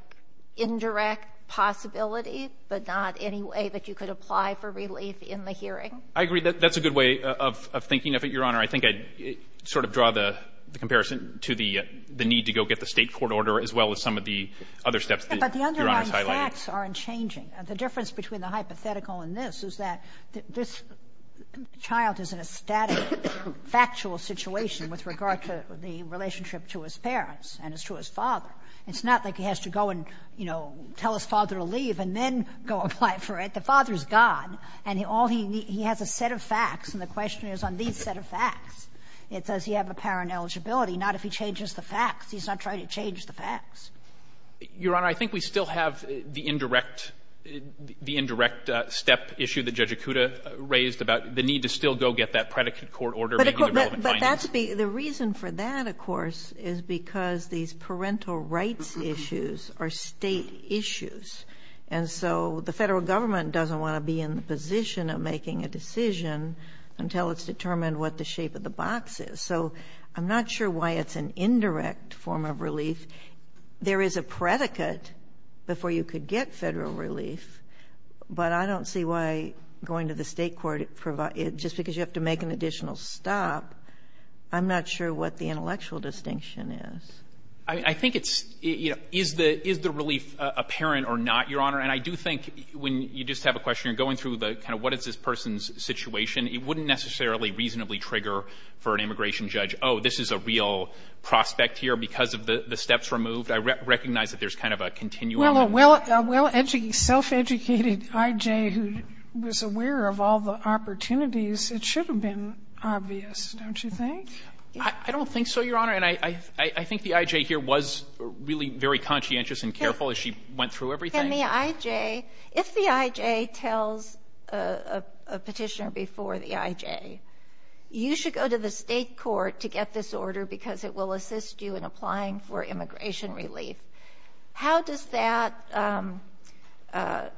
indirect possibility, but not any way that you could apply for relief in the hearing? I agree. That's a good way of thinking of it, Your Honor. I think I'd sort of draw the comparison to the need to go get the State court order as well as some of the other steps that Your Honor is highlighting. But the underlying facts aren't changing. The difference between the hypothetical and this is that this child is in a static, factual situation with regard to the relationship to his parents and to his father. It's not like he has to go and, you know, tell his father to leave and then go apply for it. The father is God. And all he needs, he has a set of facts. And the question is on these set of facts. It says he has a parent eligibility, not if he changes the facts. He's not trying to change the facts. Your Honor, I think we still have the indirect step issue that Judge Acuda raised about the need to still go get that predicate court order. But that's the reason for that, of course, is because these parental rights issues are State issues. And so the Federal government doesn't want to be in the position of making a decision until it's determined what the shape of the box is. So I'm not sure why it's an indirect form of relief. There is a predicate before you could get Federal relief, but I don't see why going to the State court, just because you have to make an additional stop, I'm not sure what the intellectual distinction is. I think it's, you know, is the relief apparent or not, Your Honor? And I do think when you just have a question, you're going through the kind of what is this person's situation, it wouldn't necessarily reasonably trigger for an immigration judge, oh, this is a real prospect here because of the steps removed. I recognize that there's kind of a continuum. Well, a well-educated, self-educated I.J. who was aware of all the opportunities, it should have been obvious, don't you think? I don't think so, Your Honor. And I think the I.J. here was really very conscientious and careful as she went through everything. Can the I.J. If the I.J. tells a petitioner before the I.J., you should go to the State court to get this order because it will assist you in applying for immigration relief. How does that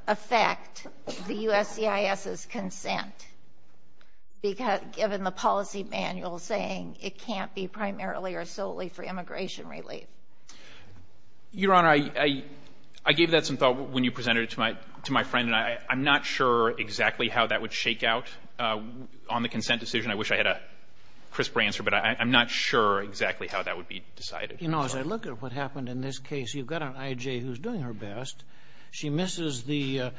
affect the USCIS's consent, given the policy manual saying it can't be primarily or solely for immigration relief? Your Honor, I gave that some thought when you presented it to my friend, and I'm not sure exactly how that would shake out on the consent decision. I wish I had a crisper answer, but I'm not sure exactly how that would be decided. You know, as I look at what happened in this case, you've got an I.J. who's doing her best. She misses the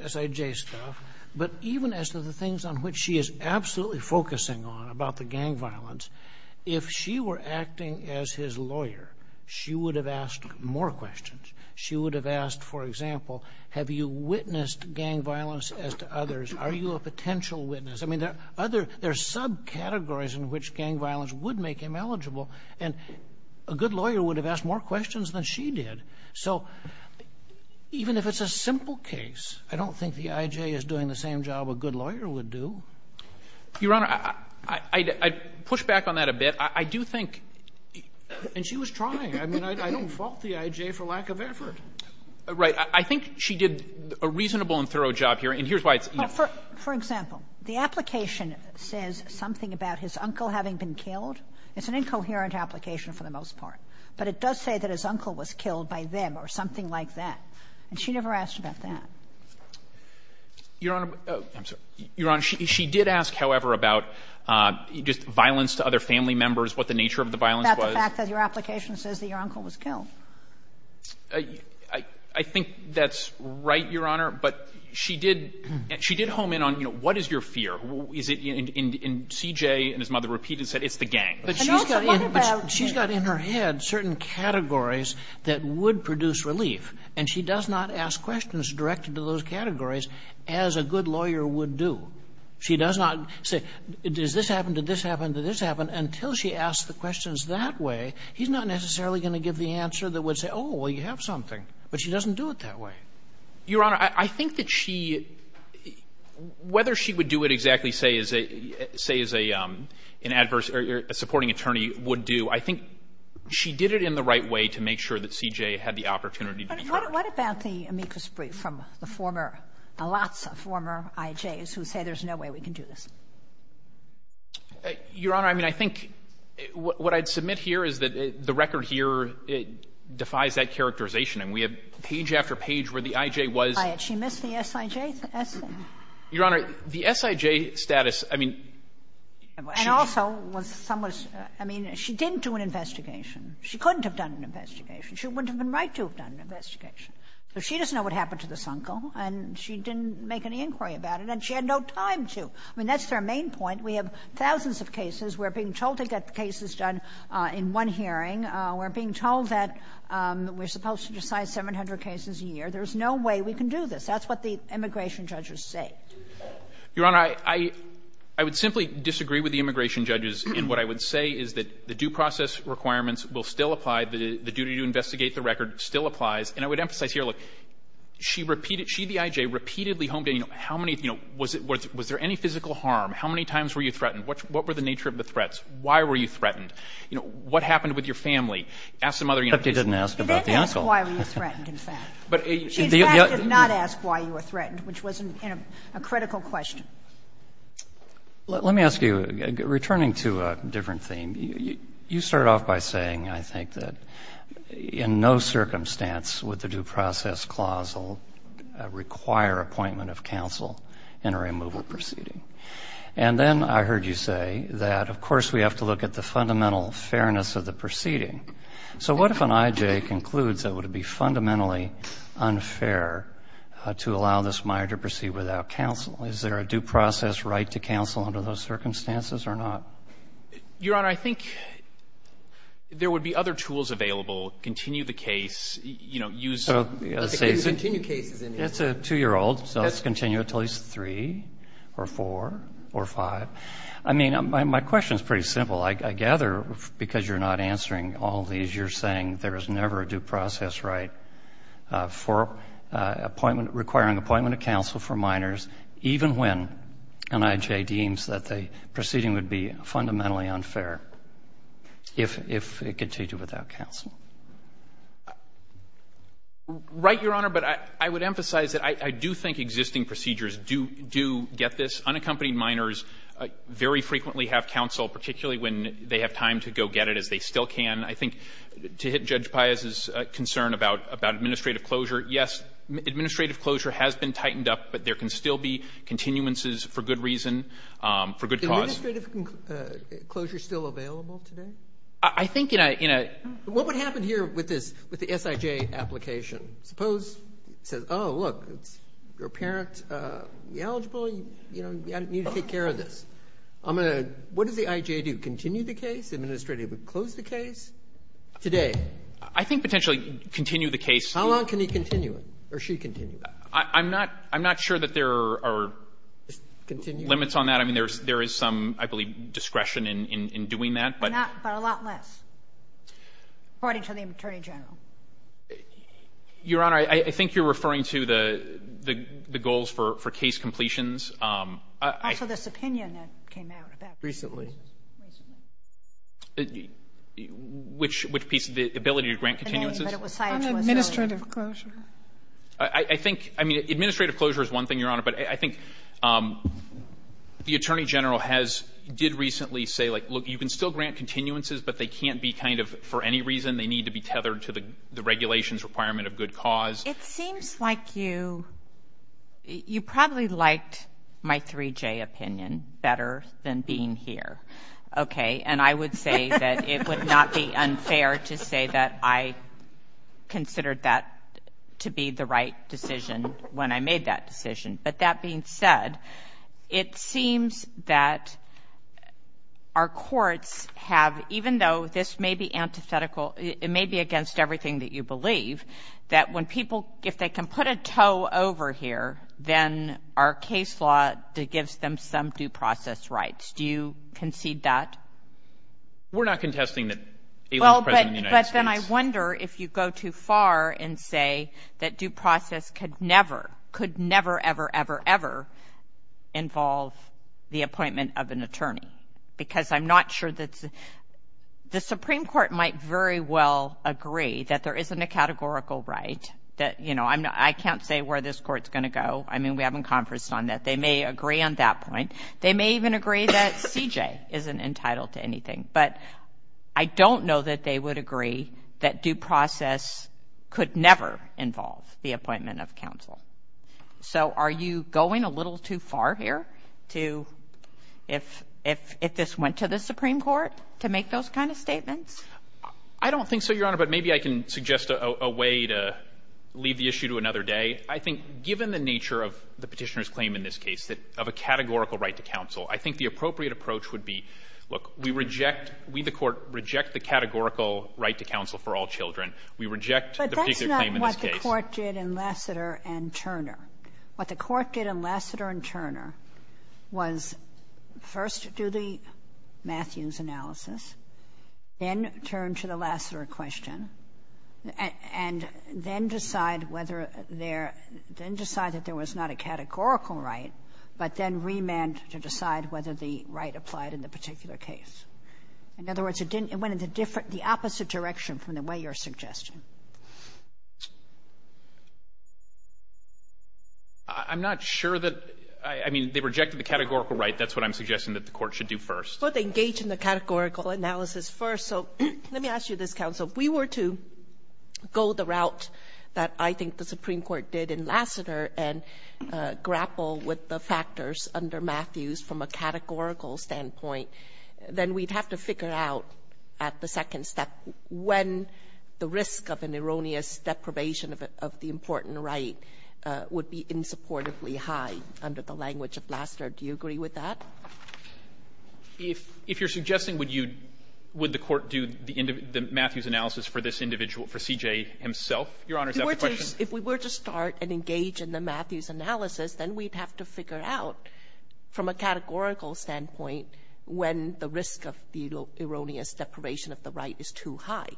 S.I.J. stuff. But even as to the things on which she is absolutely focusing on about the gang violence, if she were acting as his lawyer, she would have asked more questions. She would have asked, for example, have you witnessed gang violence as to others? Are you a potential witness? I mean, there are subcategories in which gang violence would make him eligible, and a good lawyer would have asked more questions than she did. So even if it's a simple case, I don't think the I.J. is doing the same job a good lawyer would do. Your Honor, I'd push back on that a bit. I do think — and she was trying. I mean, I don't fault the I.J. for lack of effort. Right. I think she did a reasonable and thorough job here, and here's why it's — Well, for example, the application says something about his uncle having been killed. It's an incoherent application for the most part. But it does say that his uncle was killed by them or something like that, and she never asked about that. Your Honor — I'm sorry. Your Honor, she did ask, however, about just violence to other family members, what the nature of the violence was. About the fact that your application says that your uncle was killed. I think that's right, Your Honor. But she did — she did home in on, you know, what is your fear? Is it — and C.J. and his mother repeated and said it's the gang. But she's got in her head certain categories that would produce relief, and she does not ask questions directed to those categories as a good lawyer would do. She does not say, does this happen, did this happen, did this happen, until she asks the questions that way, he's not necessarily going to give the answer that would say, oh, well, you have something. But she doesn't do it that way. Your Honor, I think that she — whether she would do it exactly, say, as a — say as a reporting attorney would do, I think she did it in the right way to make sure that C.J. had the opportunity to be heard. But what about the amicus brief from the former — the lots of former I.J.s who say there's no way we can do this? Your Honor, I mean, I think what I'd submit here is that the record here, it defies that characterization. I mean, we have page after page where the I.J. was — She missed the S.I.J. Your Honor, the S.I.J. status, I mean — And also was — I mean, she didn't do an investigation. She couldn't have done an investigation. She wouldn't have been right to have done an investigation. So she doesn't know what happened to this uncle, and she didn't make an inquiry about it, and she had no time to. I mean, that's their main point. We have thousands of cases. We're being told to get the cases done in one hearing. We're being told that we're supposed to decide 700 cases a year. There's no way we can do this. That's what the immigration judges say. Your Honor, I would simply disagree with the immigration judges in what I would say is that the due process requirements will still apply. The duty to investigate the record still applies. And I would emphasize here, look, she repeated — she, the I.J., repeatedly homed in, you know, how many — you know, was there any physical harm? How many times were you threatened? What were the nature of the threats? Why were you threatened? You know, what happened with your family? Ask some other — But they didn't ask about the uncle. She didn't ask why you were threatened, in fact. She, in fact, did not ask why you were threatened, which wasn't in a criminal That's a critical question. Let me ask you, returning to a different theme, you start off by saying, I think, that in no circumstance would the due process clause require appointment of counsel in a removal proceeding. And then I heard you say that, of course, we have to look at the fundamental fairness of the proceeding. So what if an I.J. concludes it would be fundamentally unfair to allow this minor procedure without counsel? Is there a due process right to counsel under those circumstances or not? Your Honor, I think there would be other tools available. Continue the case. You know, use — So, let's say — Continue case is in there. It's a 2-year-old, so let's continue until he's 3 or 4 or 5. I mean, my question is pretty simple. I gather, because you're not answering all these, you're saying there is never a due process right for appointment — requiring appointment of counsel for minors, even when an I.J. deems that the proceeding would be fundamentally unfair if it continued without counsel. Right, Your Honor, but I would emphasize that I do think existing procedures do get this. Unaccompanied minors very frequently have counsel, particularly when they have time to go get it, as they still can. I think to hit Judge Paez's concern about administrative closure, yes, administrative closure has been tightened up, but there can still be continuances for good reason, for good cause. Is administrative closure still available today? I think in a — What would happen here with this, with the S.I.J. application? Suppose it says, oh, look, your parent is eligible, you know, you need to take care of this. What does the I.J. do? Continue the case? Administrative. Close the case? Today? I think potentially continue the case. How long can he continue it? Or she continue it? I'm not — I'm not sure that there are limits on that. I mean, there is some, I believe, discretion in doing that, but — But a lot less, according to the Attorney General. Your Honor, I think you're referring to the goals for case completions. Also this opinion that came out about this. Recently. Recently. Which piece of the ability to grant continuances? The name, but it was S.I.J. earlier. On administrative closure. I think — I mean, administrative closure is one thing, Your Honor, but I think the Attorney General has — did recently say, like, look, you can still grant continuances, but they can't be kind of for any reason. They need to be tethered to the regulations requirement of good cause. It seems like you — you probably liked my 3J opinion better than being here. Okay? And I would say that it would not be unfair to say that I considered that to be the right decision when I made that decision. But that being said, it seems that our courts have, even though this may be antithetical — it may be against everything that you believe, that when people — if they can put a toe over here, then our case law gives them some due process rights. Do you concede that? We're not contesting that Aileen is President of the United States. Well, but then I wonder if you go too far and say that due process could never, could never, ever, ever, ever involve the appointment of an attorney. Because I'm not sure that — the Supreme Court might very well agree that there isn't a categorical right that, you know, I can't say where this court's going to go. I mean, we haven't conferenced on that. They may agree on that point. They may even agree that CJ isn't entitled to anything. But I don't know that they would agree that due process could never involve the appointment of counsel. So are you going a little too far here to — if this went to the Supreme Court to make those kind of statements? I don't think so, Your Honor. But maybe I can suggest a way to leave the issue to another day. I think given the nature of the Petitioner's claim in this case, of a categorical right to counsel, I think the appropriate approach would be, look, we reject — we, the Court, reject the categorical right to counsel for all children. We reject the particular claim in this case. Kagan. What the Court did in Lassiter and Turner, what the Court did in Lassiter and Turner was first do the Matthews analysis, then turn to the Lassiter question, and then decide whether there — then decide that there was not a categorical right, but then remand to decide whether the right applied in the particular case. In other words, it went in the opposite direction from the way you're suggesting. I'm not sure that — I mean, they rejected the categorical right. That's what I'm suggesting that the Court should do first. Well, they engaged in the categorical analysis first. So let me ask you this, counsel. If we were to go the route that I think the Supreme Court did in Lassiter and grapple with the factors under Matthews from a categorical standpoint, then we'd have to figure out at the second step when the risk of an erroneous deprivation of the important right would be insupportably high under the language of Lassiter. Do you agree with that? If you're suggesting would you — would the Court do the Matthews analysis for this individual, for C.J. himself, Your Honor, is that the question? If we were to start and engage in the Matthews analysis, then we'd have to figure out from a categorical standpoint when the risk of erroneous deprivation of the right is too high.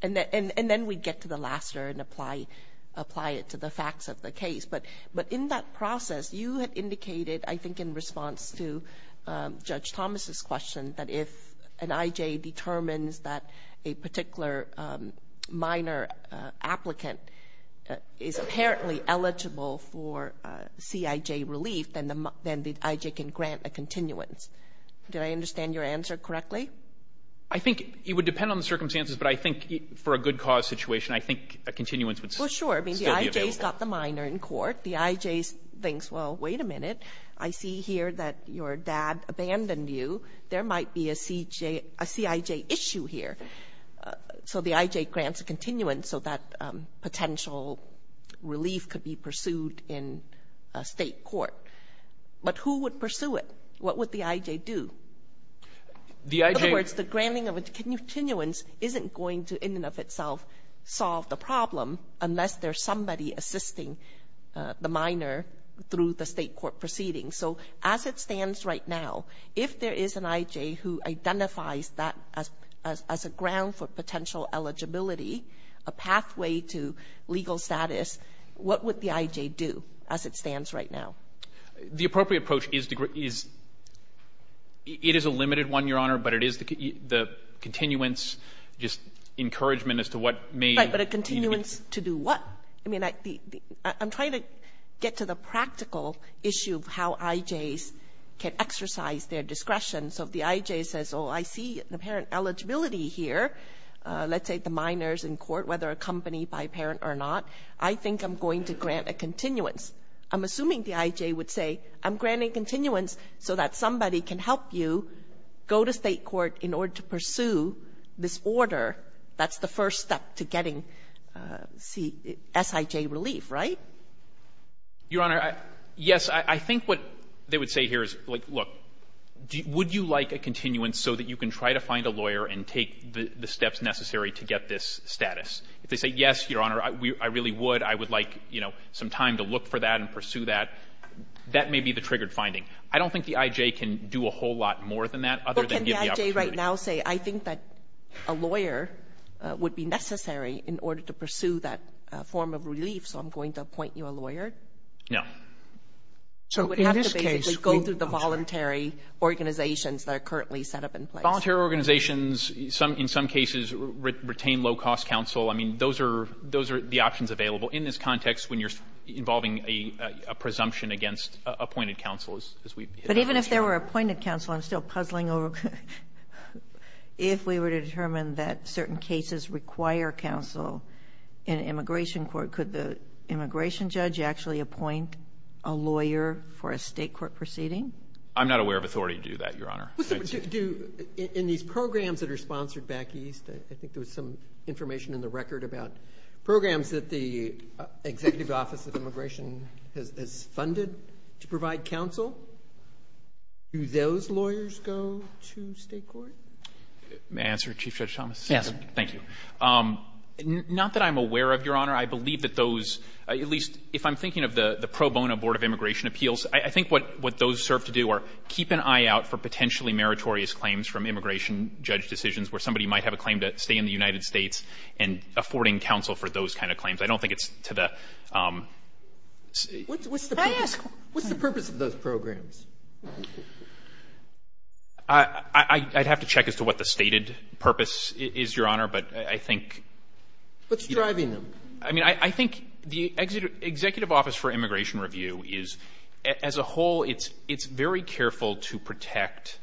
And then we'd get to the Lassiter and apply it to the facts of the case. But in that process, you had indicated, I think in response to Judge Thomas' question, that if an I.J. determines that a particular minor applicant is apparently eligible for C.I.J. relief, then the I.J. can grant a continuance. Did I understand your answer correctly? I think it would depend on the circumstances, but I think for a good cause situation, I think a continuance would still be available. Well, sure. I mean, the I.J. has got the minor in court. The I.J. thinks, well, wait a minute. I see here that your dad abandoned you. There might be a C.I.J. issue here. So the I.J. grants a continuance so that potential relief could be pursued in a State court. But who would pursue it? What would the I.J. do? The I.J. In other words, the granting of a continuance isn't going to, in and of itself, solve the problem unless there's somebody assisting the minor through the State court proceedings. So as it stands right now, if there is an I.J. who identifies that as a ground for potential eligibility, a pathway to legal status, what would the I.J. do as it stands right now? The appropriate approach is the grant is — it is a limited one, Your Honor, but it is the continuance, just encouragement as to what may — Right. But a continuance to do what? I mean, I'm trying to get to the practical issue of how I.J.s can exercise their discretion. So if the I.J. says, oh, I see the parent eligibility here, let's say the minor's in court, whether accompanied by a parent or not, I think I'm going to grant a continuance. I'm assuming the I.J. would say, I'm granting continuance so that somebody can help you go to State court in order to pursue this order. That's the first step to getting S.I.J. relief, right? Your Honor, yes. I think what they would say here is, like, look, would you like a continuance so that you can try to find a lawyer and take the steps necessary to get this status? If they say, yes, Your Honor, I really would, I would like, you know, some time to look for that and pursue that, that may be the triggered finding. I don't think the I.J. can do a whole lot more than that other than give the opportunity. So would you right now say, I think that a lawyer would be necessary in order to pursue that form of relief, so I'm going to appoint you a lawyer? No. So in this case, we would have to basically go through the voluntary organizations that are currently set up in place. Voluntary organizations, in some cases, retain low-cost counsel. I mean, those are the options available. In this context, when you're involving a presumption against appointed counsel, But even if there were appointed counsel, I'm still puzzling over if we were to determine that certain cases require counsel in an immigration court, could the immigration judge actually appoint a lawyer for a state court proceeding? I'm not aware of authority to do that, Your Honor. In these programs that are sponsored back east, I think there was some information in the record about programs that the Executive Office of Immigration has funded to provide counsel. Do those lawyers go to state court? May I answer, Chief Judge Thomas? Yes. Thank you. Not that I'm aware of, Your Honor. I believe that those, at least if I'm thinking of the pro bono Board of Immigration Appeals, I think what those serve to do are keep an eye out for potentially meritorious claims from immigration judge decisions where somebody might have a claim to stay in the United States and affording counsel for those kind of claims. I don't think it's to the – What's the purpose of those programs? I'd have to check as to what the stated purpose is, Your Honor, but I think – What's driving them? I mean, I think the Executive Office for Immigration Review is, as a whole, it's very careful to protect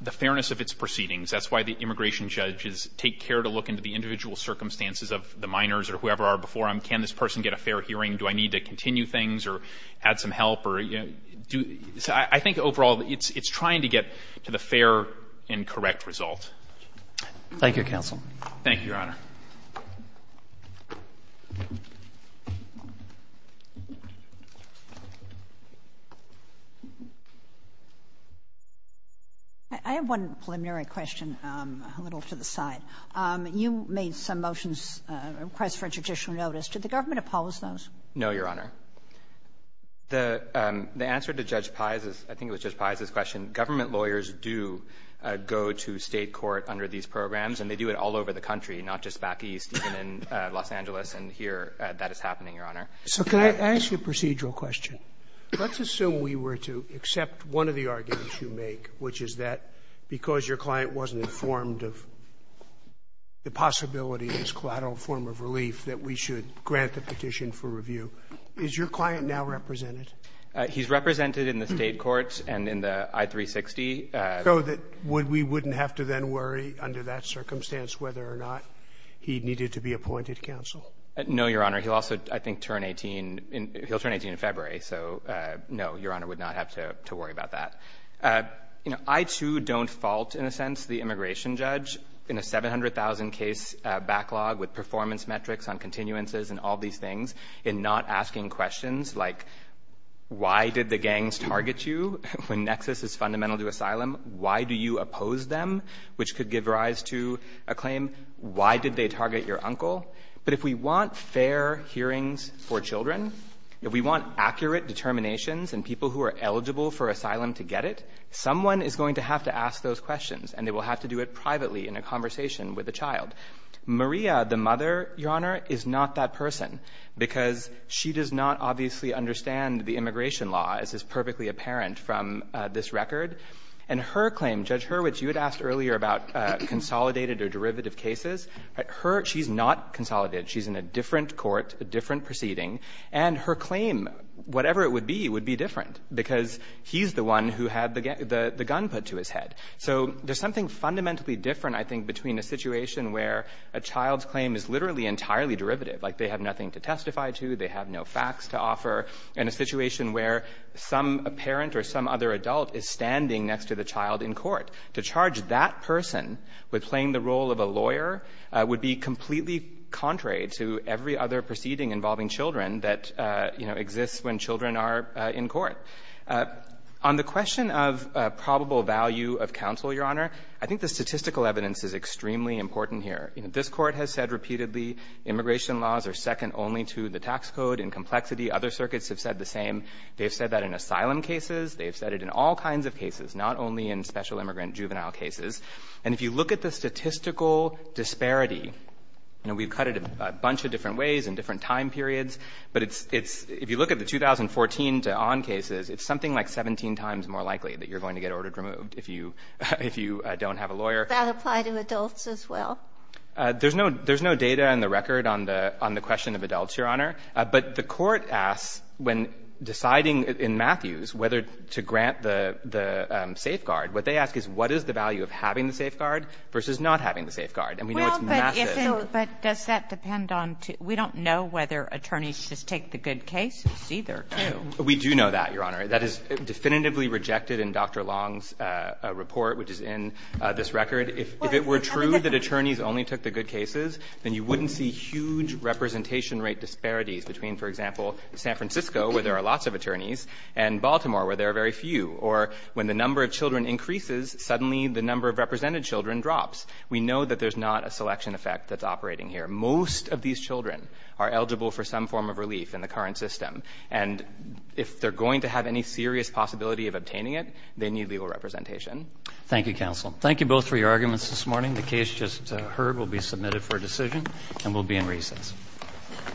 the fairness of its proceedings. That's why the immigration judges take care to look into the individual circumstances of the minors or whoever are before them. Can this person get a fair hearing? Do I need to continue things or add some help? I think overall it's trying to get to the fair and correct result. Thank you, counsel. Thank you, Your Honor. I have one preliminary question, a little to the side. You made some motions, requests for a judicial notice. Did the government oppose those? No, Your Honor. The answer to Judge Pai's, I think it was Judge Pai's question, government lawyers do go to State court under these programs, and they do it all over the country, not just back east, even in Los Angeles. And here that is happening, Your Honor. So can I ask you a procedural question? Let's assume we were to accept one of the arguments you make, which is that because your client wasn't informed of the possibility of this collateral form of relief that we should grant the petition for review. Is your client now represented? He's represented in the State courts and in the I-360. So that we wouldn't have to then worry under that circumstance whether or not he needed to be appointed counsel? No, Your Honor. He'll also, I think, turn 18 in February. So, no, Your Honor, would not have to worry about that. You know, I, too, don't fault, in a sense, the immigration judge in a 700,000 case backlog with performance metrics on continuances and all these things in not asking questions like why did the gangs target you when Nexus is fundamental to asylum, why do you oppose them, which could give rise to a claim, why did they target your uncle? But if we want fair hearings for children, if we want accurate determinations and people who are eligible for asylum to get it, someone is going to have to ask those questions, and they will have to do it privately in a conversation with a child. Maria, the mother, Your Honor, is not that person, because she does not obviously understand the immigration law, as is perfectly apparent from this record. And her claim, Judge Hurwitz, you had asked earlier about consolidated or derivative cases. She's not consolidated. She's in a different court, a different proceeding. And her claim, whatever it would be, would be different, because he's the one who had the gun put to his head. So there's something fundamentally different, I think, between a situation where a child's claim is literally entirely derivative, like they have nothing to testify against, to offer, and a situation where some parent or some other adult is standing next to the child in court. To charge that person with playing the role of a lawyer would be completely contrary to every other proceeding involving children that, you know, exists when children are in court. On the question of probable value of counsel, Your Honor, I think the statistical evidence is extremely important here. You know, this Court has said repeatedly immigration laws are second only to the tax code in complexity. Other circuits have said the same. They've said that in asylum cases. They've said it in all kinds of cases, not only in special immigrant juvenile cases. And if you look at the statistical disparity, you know, we've cut it a bunch of different ways in different time periods, but it's — it's — if you look at the 2014 to on cases, it's something like 17 times more likely that you're going to get ordered removed if you — if you don't have a lawyer. That apply to adults as well? There's no — there's no data in the record on the question of adults, Your Honor. But the Court asks, when deciding in Matthews whether to grant the safeguard, what they ask is what is the value of having the safeguard versus not having the safeguard. And we know it's massive. Well, but if it — but does that depend on — we don't know whether attorneys just take the good cases either, do we? We do know that, Your Honor. That is definitively rejected in Dr. Long's report, which is in this record. If it were true that attorneys only took the good cases, then you wouldn't see huge representation rate disparities between, for example, San Francisco, where there are lots of attorneys, and Baltimore, where there are very few. Or when the number of children increases, suddenly the number of represented children drops. We know that there's not a selection effect that's operating here. Most of these children are eligible for some form of relief in the current system. And if they're going to have any serious possibility of obtaining it, they need legal representation. Thank you, counsel. Thank you both for your arguments this morning. The case just heard will be submitted for decision, and we'll be in recess. Thank you. Thank you.